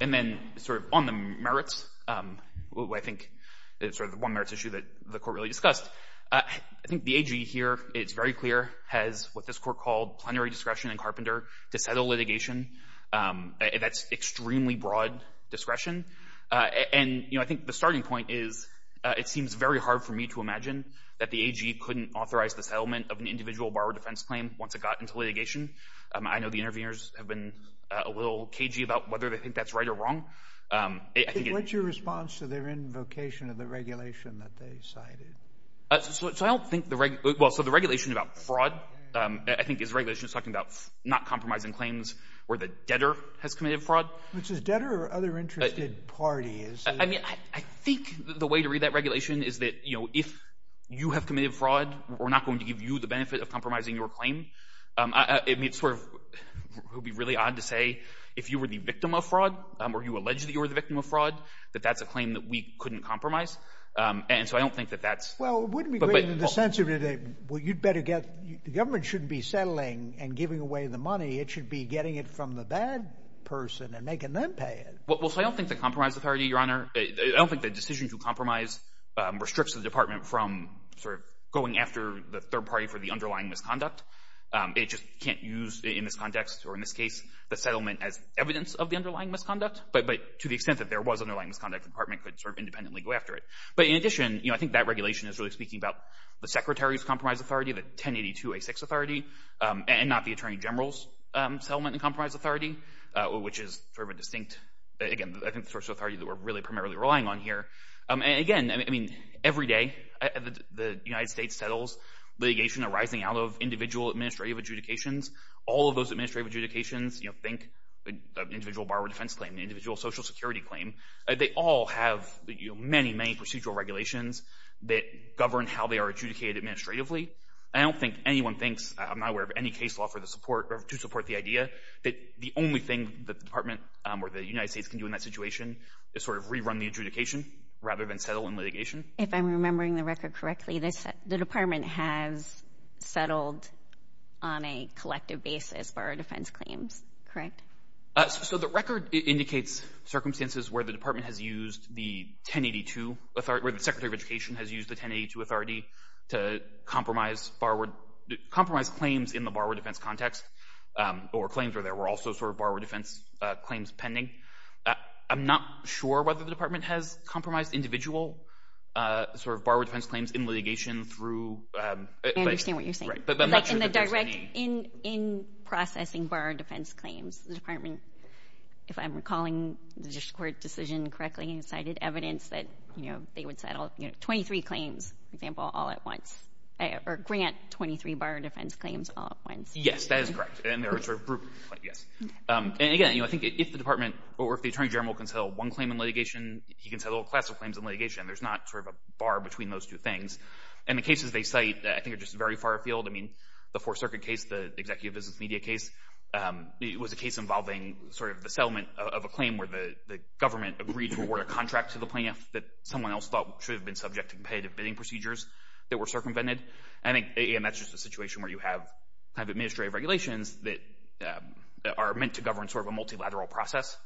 And then sort of on the merits, I think, sort of the one merits issue that the court really discussed, I think the AG here, it's very clear, has what this court called plenary discretion in Carpenter to settle litigation. That's extremely broad discretion. And, you know, I think the starting point is it seems very hard for me to imagine that the AG couldn't authorize the settlement of an individual borrower defense claim once it got into litigation. I know the interviewers have been a little cagey about whether they think that's right or wrong. I think it— What's your response to their invocation of the regulation that they cited? So I don't think the—well, so the regulation about fraud, I think, is regulation that's talking about not compromising claims where the debtor has committed fraud. Which is debtor or other interested parties? I mean, I think the way to read that regulation is that, you know, if you have committed fraud, we're not going to give you the benefit of compromising your claim. I mean, it's sort of—it would be really odd to say if you were the victim of fraud or you alleged that you were the victim of fraud, that that's a claim that we couldn't compromise. And so I don't think that that's— Well, it wouldn't be great in the sense of, well, you'd better get— the government shouldn't be settling and giving away the money. It should be getting it from the bad person and making them pay it. Well, so I don't think the compromise authority, Your Honor— I don't think the decision to compromise restricts the department from sort of going after the third party for the underlying misconduct. It just can't use, in this context or in this case, the settlement as evidence of the underlying misconduct. But to the extent that there was underlying misconduct, the department could sort of independently go after it. But in addition, you know, I think that regulation is really speaking about the secretary's compromise authority, the 1082A6 authority, and not the attorney general's settlement and compromise authority, which is sort of a distinct—again, I think the sort of authority that we're really primarily relying on here. And again, I mean, every day the United States settles litigation arising out of individual administrative adjudications. All of those administrative adjudications, you know, think the individual borrower defense claim, the individual social security claim, they all have many, many procedural regulations that govern how they are adjudicated administratively. I don't think anyone thinks—I'm not aware of any case law to support the idea— that the only thing that the department or the United States can do in that situation is sort of rerun the adjudication rather than settle in litigation. If I'm remembering the record correctly, the department has settled on a collective basis borrower defense claims, correct? So the record indicates circumstances where the department has used the 1082 authority— where the secretary of education has used the 1082 authority to compromise claims in the borrower defense context or claims where there were also sort of borrower defense claims pending. I'm not sure whether the department has compromised individual sort of borrower defense claims in litigation through— I understand what you're saying. In processing borrower defense claims, the department, if I'm recalling the district court decision correctly, cited evidence that, you know, they would settle 23 claims, for example, all at once or grant 23 borrower defense claims all at once. Yes, that is correct, and there are sort of—yes. And again, you know, I think if the department or if the attorney general can settle one claim in litigation, he can settle a class of claims in litigation. There's not sort of a bar between those two things. And the cases they cite, I think, are just very far afield. I mean, the Fourth Circuit case, the executive business media case, it was a case involving sort of the settlement of a claim where the government agreed to award a contract to the plaintiff that someone else thought should have been subject to competitive bidding procedures that were circumvented. And again, that's just a situation where you have kind of administrative regulations that are meant to govern sort of a multilateral process,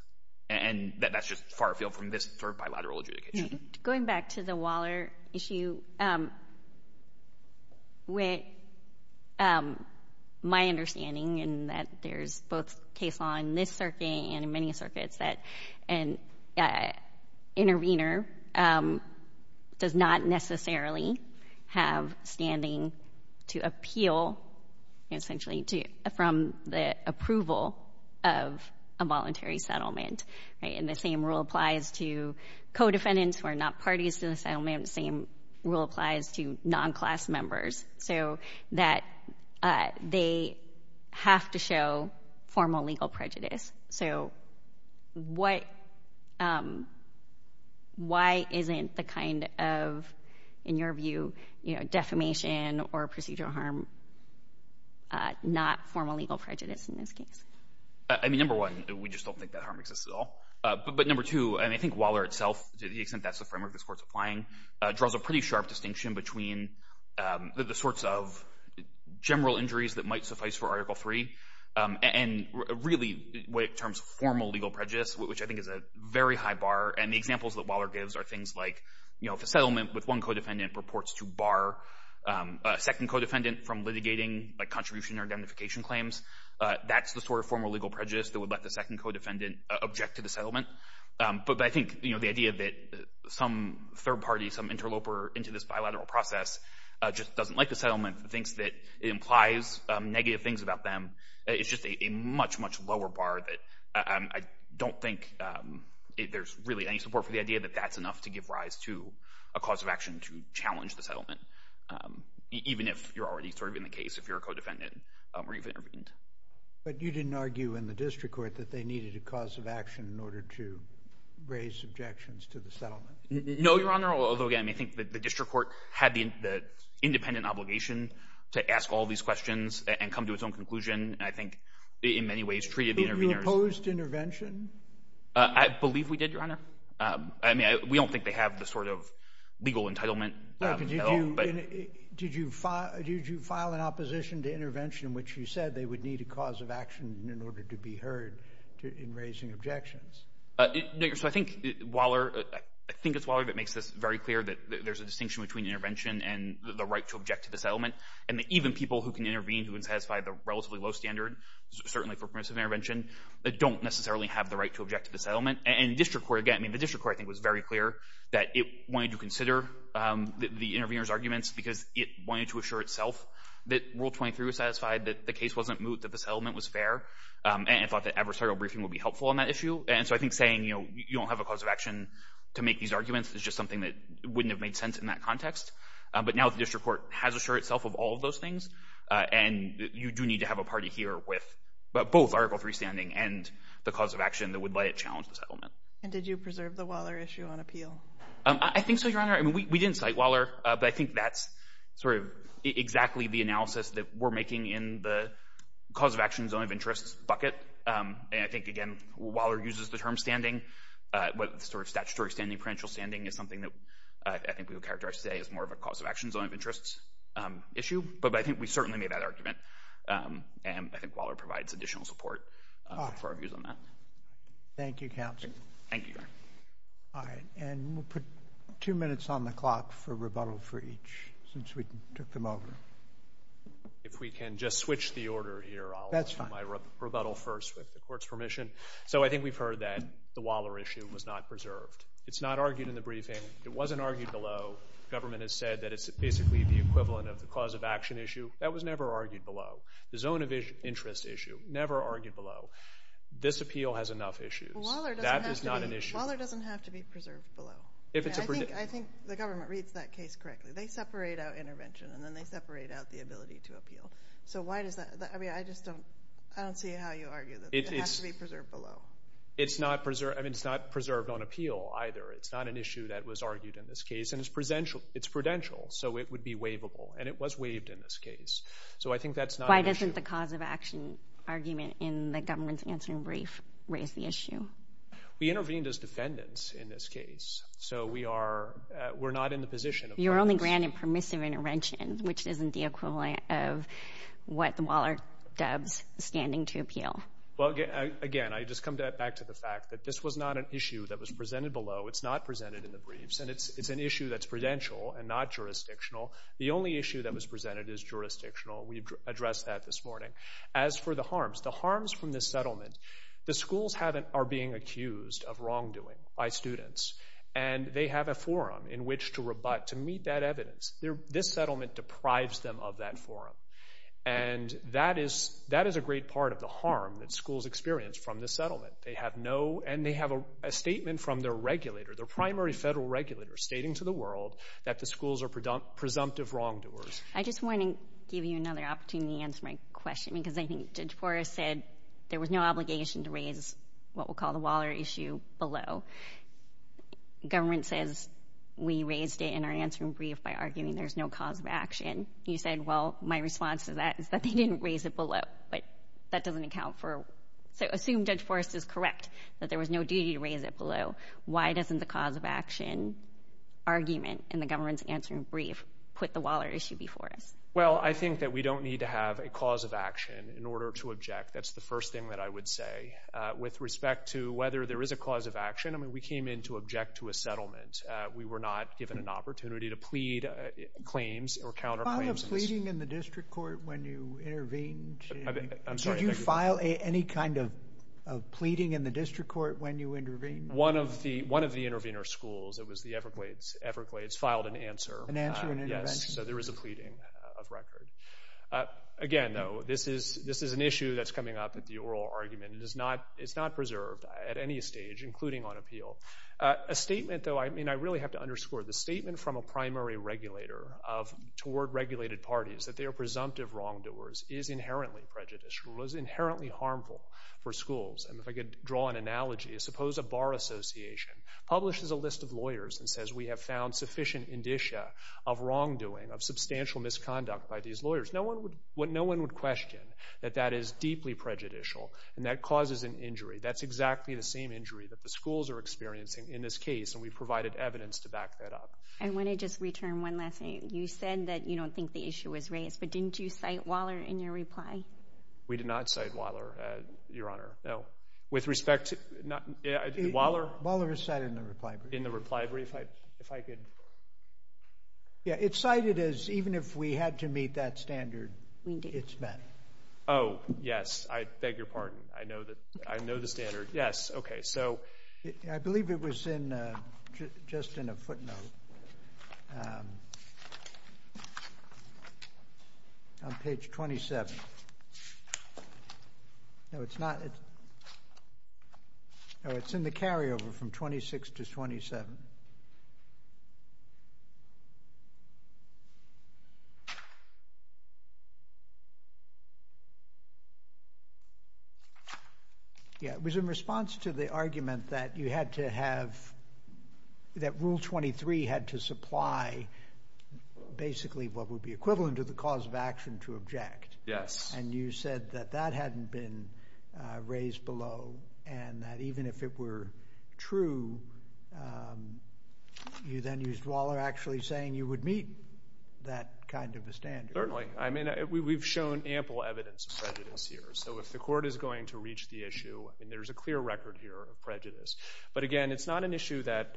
and that's just far afield from this sort of bilateral adjudication. Going back to the Waller issue, with my understanding in that there's both case law in this circuit and in many circuits that an intervener does not necessarily have standing to appeal, essentially, from the approval of a voluntary settlement. And the same rule applies to co-defendants who are not parties to the settlement. The same rule applies to non-class members, so that they have to show formal legal prejudice. So why isn't the kind of, in your view, defamation or procedural harm not formal legal prejudice in this case? I mean, number one, we just don't think that harm exists at all. But number two, and I think Waller itself, to the extent that's the framework this Court's applying, draws a pretty sharp distinction between the sorts of general injuries that might suffice for Article III and really what it terms formal legal prejudice, which I think is a very high bar. And the examples that Waller gives are things like, you know, if a settlement with one co-defendant purports to bar a second co-defendant from litigating a contribution or identification claims, that's the sort of formal legal prejudice that would let the second co-defendant object to the settlement. But I think, you know, the idea that some third party, some interloper into this bilateral process just doesn't like the settlement, thinks that it implies negative things about them, it's just a much, much lower bar that I don't think there's really any support for the idea that that's enough to give rise to a cause of action to challenge the settlement, even if you're already sort of in the case, if you're a co-defendant or you've intervened. But you didn't argue in the District Court that they needed a cause of action in order to raise objections to the settlement? No, Your Honor, although, again, I think the District Court had the independent obligation to ask all these questions and come to its own conclusion, and I think in many ways treated the interveners... But you opposed intervention? I believe we did, Your Honor. I mean, we don't think they have the sort of legal entitlement. Right, but did you file an opposition to intervention in which you said they would need a cause of action in order to be heard in raising objections? No, Your Honor, so I think Waller, I think it's Waller that makes this very clear that there's a distinction between intervention and the right to object to the settlement, and that even people who can intervene who would satisfy the relatively low standard, certainly for permissive intervention, don't necessarily have the right to object to the settlement. And the District Court, again, I mean, the District Court, I think, was very clear that it wanted to consider the intervener's arguments because it wanted to assure itself that Rule 23 was satisfied, that the case wasn't moot, that the settlement was fair, and thought that adversarial briefing would be helpful on that issue. And so I think saying, you know, you don't have a cause of action to make these arguments is just something that wouldn't have made sense in that context. But now the District Court has assured itself of all of those things, and you do need to have a party here with both Article III standing and the cause of action that would let it challenge the settlement. And did you preserve the Waller issue on appeal? I think so, Your Honor. I mean, we didn't cite Waller, but I think that's sort of exactly the analysis that we're making in the cause of action zone of interest bucket. And I think, again, Waller uses the term standing, but sort of statutory standing, prudential standing, is something that I think we would characterize today as more of a cause of action zone of interest issue. But I think we certainly made that argument, and I think Waller provides additional support for our views on that. Thank you, Counsel. Thank you, Your Honor. All right. And we'll put two minutes on the clock for rebuttal for each since we took them over. If we can just switch the order here, I'll do my rebuttal first with the Court's permission. So I think we've heard that the Waller issue was not preserved. It's not argued in the briefing. It wasn't argued below. Government has said that it's basically the equivalent of the cause of action issue. That was never argued below. The zone of interest issue, never argued below. This appeal has enough issues. That is not an issue. Waller doesn't have to be preserved below. I think the government reads that case correctly. They separate out intervention, and then they separate out the ability to appeal. So why does that? I mean, I just don't see how you argue that it has to be preserved below. It's not preserved on appeal either. It's not an issue that was argued in this case, and it's prudential, so it would be waivable, and it was waived in this case. So I think that's not an issue. Why didn't the cause of action argument in the government's answering brief raise the issue? We intervened as defendants in this case, so we're not in the position of permits. You're only granted permissive intervention, which isn't the equivalent of what the Waller dubs standing to appeal. Well, again, I just come back to the fact that this was not an issue that was presented below. It's not presented in the briefs, and it's an issue that's prudential and not jurisdictional. The only issue that was presented is jurisdictional. We addressed that this morning. As for the harms, the harms from this settlement, the schools are being accused of wrongdoing by students, and they have a forum in which to rebut, to meet that evidence. This settlement deprives them of that forum, and that is a great part of the harm that schools experience from this settlement. They have no, and they have a statement from their regulator, their primary federal regulator, stating to the world that the schools are presumptive wrongdoers. I just want to give you another opportunity to answer my question because I think Judge Forrest said there was no obligation to raise what we'll call the Waller issue below. The government says we raised it in our answering brief by arguing there's no cause of action. You said, well, my response to that is that they didn't raise it below, but that doesn't account for, so assume Judge Forrest is correct that there was no duty to raise it below. Why doesn't the cause of action argument in the government's answering brief put the Waller issue before us? Well, I think that we don't need to have a cause of action in order to object. That's the first thing that I would say. With respect to whether there is a cause of action, we came in to object to a settlement. We were not given an opportunity to plead claims or counter claims. Did you file any kind of pleading in the district court when you intervened? One of the intervener schools, it was the Everglades, filed an answer. Yes, so there was a pleading of record. Again, though, this is an issue that's coming up at the oral argument. It's not preserved at any stage, including on appeal. A statement, though, I really have to underscore. The statement from a primary regulator toward regulated parties that they are presumptive wrongdoers is inherently prejudicial. It was inherently harmful for schools. If I could draw an analogy, suppose a bar association publishes a list of lawyers and says we have found sufficient indicia of wrongdoing, of substantial misconduct by these lawyers. No one would question that that is deeply prejudicial and that causes an injury. That's exactly the same injury that the schools are experiencing in this case, and we provided evidence to back that up. I want to just return one last thing. You said that you don't think the issue was raised, but didn't you cite Waller in your reply? We did not cite Waller, Your Honor. With respect to Waller? Waller is cited in the reply brief. In the reply brief? It's cited as even if we had to meet that standard, it's met. Oh, yes, I beg your pardon. I know the standard. I believe it was just in a footnote on page 27. No, it's not. No, it's in the carryover from 26 to 27. Yes, it was in response to the argument that you had to have, that Rule 23 had to supply basically what would be equivalent to the cause of action to object. Yes. And you said that that hadn't been raised below, and that even if it were true, you then used Waller actually saying you would meet that kind of a standard. Certainly. I mean, we've shown ample evidence of prejudice here, so if the Court is going to reach the issue, there's a clear record here of prejudice. But, again, it's not an issue that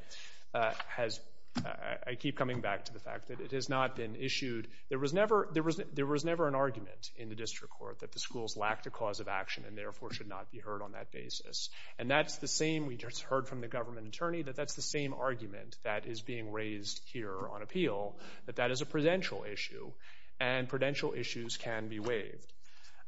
has – I keep coming back to the fact that it has not been issued. There was never an argument in the District Court that the schools lacked a cause of action and, therefore, should not be heard on that basis. And that's the same – we just heard from the government attorney that that's the same argument that is being raised here on appeal, that that is a prudential issue, and prudential issues can be waived.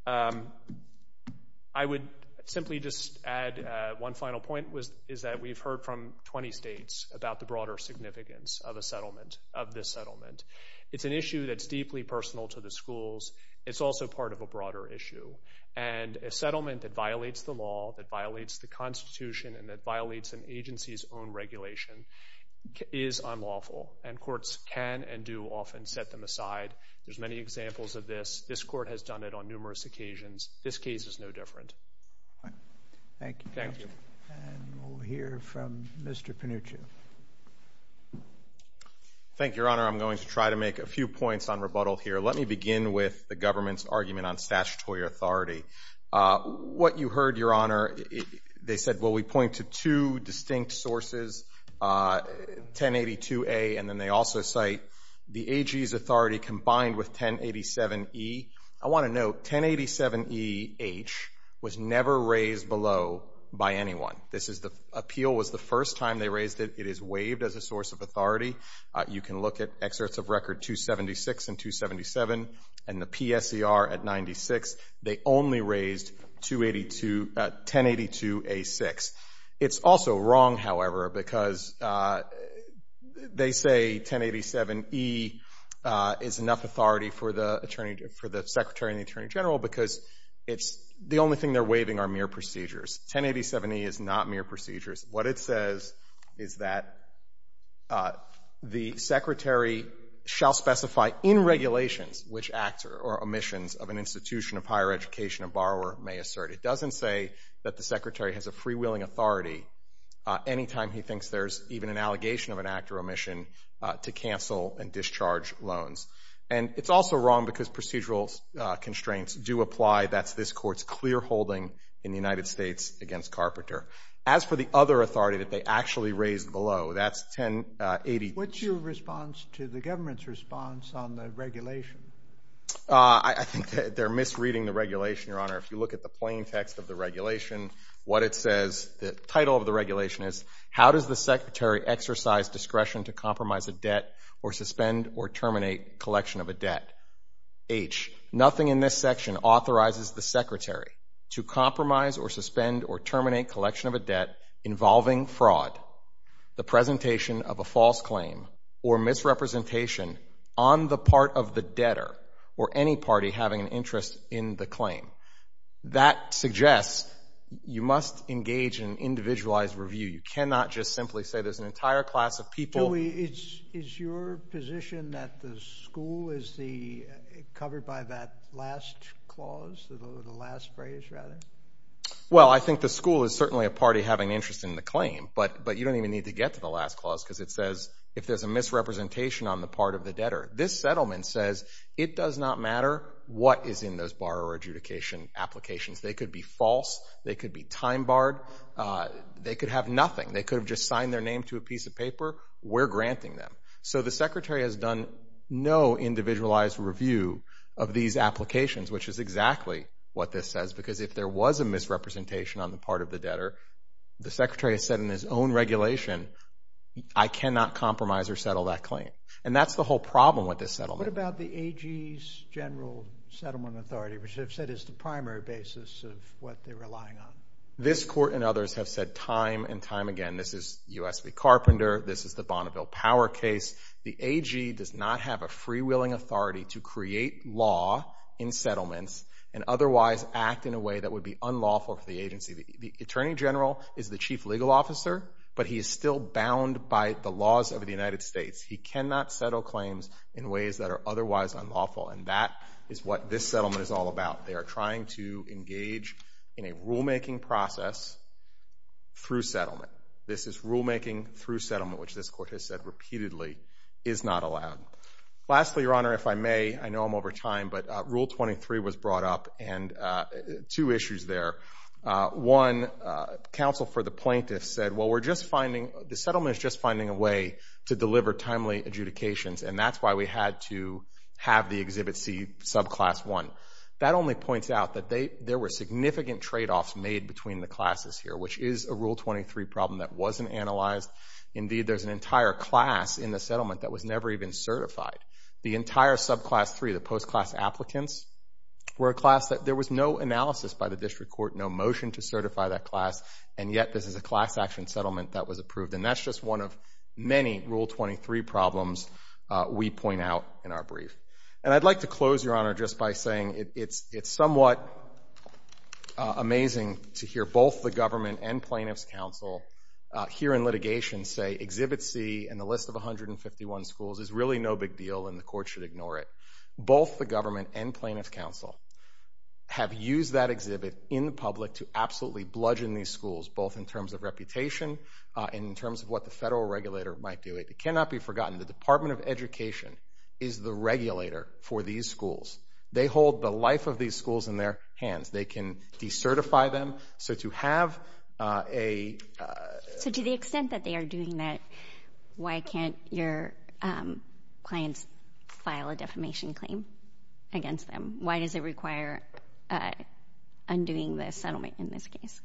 I would simply just add one final point, is that we've heard from 20 states about the broader significance of a settlement, of this settlement. It's an issue that's deeply personal to the schools. It's also part of a broader issue, and a settlement that violates the law, that violates the Constitution, and that violates an agency's own regulation is unlawful, and courts can and do often set them aside. There's many examples of this. This Court has done it on numerous occasions. This case is no different. Thank you. Thank you. And we'll hear from Mr. Panuccio. Thank you. Thank you, Your Honor. I'm going to try to make a few points on rebuttal here. Let me begin with the government's argument on statutory authority. What you heard, Your Honor, they said, well, we point to two distinct sources, 1082A, and then they also cite the AG's authority combined with 1087E. I want to note 1087E-H was never raised below by anyone. This is the appeal was the first time they raised it. It is waived as a source of authority. You can look at excerpts of Record 276 and 277, and the PSER at 96. They only raised 1082A-6. It's also wrong, however, because they say 1087E is enough authority for the Secretary and the Attorney General because the only thing they're waiving are mere procedures. 1087E is not mere procedures. What it says is that the Secretary shall specify in regulations which acts or omissions of an institution of higher education a borrower may assert. It doesn't say that the Secretary has a free-willing authority any time he thinks there's even an allegation of an act or omission to cancel and discharge loans. And it's also wrong because procedural constraints do apply. That's this Court's clear holding in the United States against Carpenter. As for the other authority that they actually raised below, that's 1083. What's your response to the government's response on the regulation? I think they're misreading the regulation, Your Honor. If you look at the plain text of the regulation, what it says, the title of the regulation is, How does the Secretary exercise discretion to compromise a debt or suspend or terminate collection of a debt? H, nothing in this section authorizes the Secretary to compromise or suspend or terminate collection of a debt involving fraud, the presentation of a false claim, or misrepresentation on the part of the debtor or any party having an interest in the claim. That suggests you must engage in individualized review. You cannot just simply say there's an entire class of people. Is your position that the school is covered by that last clause, the last phrase, rather? Well, I think the school is certainly a party having an interest in the claim, but you don't even need to get to the last clause because it says if there's a misrepresentation on the part of the debtor. This settlement says it does not matter what is in those borrower adjudication applications. They could be false. They could be time-barred. They could have nothing. They could have just signed their name to a piece of paper. We're granting them. So the Secretary has done no individualized review of these applications, which is exactly what this says because if there was a misrepresentation on the part of the debtor, the Secretary has said in his own regulation, I cannot compromise or settle that claim. And that's the whole problem with this settlement. What about the AG's General Settlement Authority, which they've said is the primary basis of what they're relying on? This court and others have said time and time again, this is U.S. v. Carpenter, this is the Bonneville Power case. The AG does not have a free-willing authority to create law in settlements and otherwise act in a way that would be unlawful for the agency. The Attorney General is the chief legal officer, but he is still bound by the laws of the United States. He cannot settle claims in ways that are otherwise unlawful, and that is what this settlement is all about. They are trying to engage in a rulemaking process through settlement. This is rulemaking through settlement, which this court has said repeatedly is not allowed. Lastly, Your Honor, if I may, I know I'm over time, but Rule 23 was brought up, and two issues there. One, counsel for the plaintiffs said, well, the settlement is just finding a way to deliver timely adjudications, and that's why we had to have the Exhibit C, subclass 1. That only points out that there were significant tradeoffs made between the classes here, which is a Rule 23 problem that wasn't analyzed. Indeed, there's an entire class in the settlement that was never even certified. The entire subclass 3, the post-class applicants, were a class that there was no analysis by the district court, no motion to certify that class, and yet this is a class action settlement that was approved, and that's just one of many Rule 23 problems we point out in our brief. And I'd like to close, Your Honor, just by saying it's somewhat amazing to hear both the government and plaintiffs' counsel here in litigation say Exhibit C and the list of 151 schools is really no big deal, and the court should ignore it. Both the government and plaintiffs' counsel have used that exhibit in the public to absolutely bludgeon these schools, both in terms of reputation and in terms of what the federal regulator might do. It cannot be forgotten. The Department of Education is the regulator for these schools. They hold the life of these schools in their hands. They can decertify them. So to have a... So to the extent that they are doing that, why can't your clients file a defamation claim against them? Why does it require undoing the settlement in this case?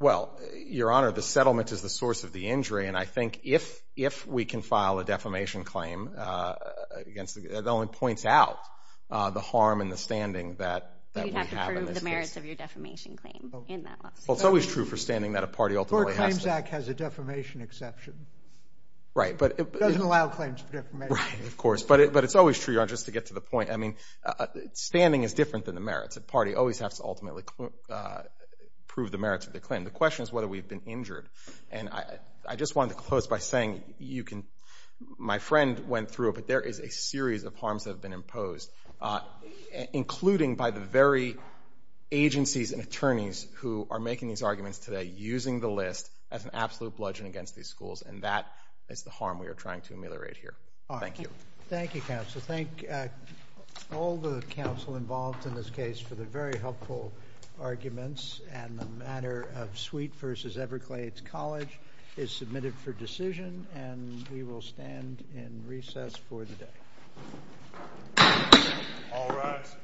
Well, Your Honor, the settlement is the source of the injury, and I think if we can file a defamation claim, it only points out the harm and the standing that we have in this case. You'd have to prove the merits of your defamation claim in that lawsuit. Well, it's always true for standing that a party ultimately has to. The Court Claims Act has a defamation exception. Right, but it... It doesn't allow claims for defamation. Right, of course. But it's always true, Your Honor, just to get to the point. I mean, standing is different than the merits. A party always has to ultimately prove the merits of their claim. The question is whether we've been injured. And I just wanted to close by saying you can... My friend went through it, but there is a series of harms that have been imposed, including by the very agencies and attorneys who are making these arguments today, using the list as an absolute bludgeon against these schools, and that is the harm we are trying to ameliorate here. Thank you. Thank you, counsel. Thank all the counsel involved in this case for the very helpful arguments and the matter of Sweet v. Everglades College is submitted for decision, and we will stand in recess for the day. All rise.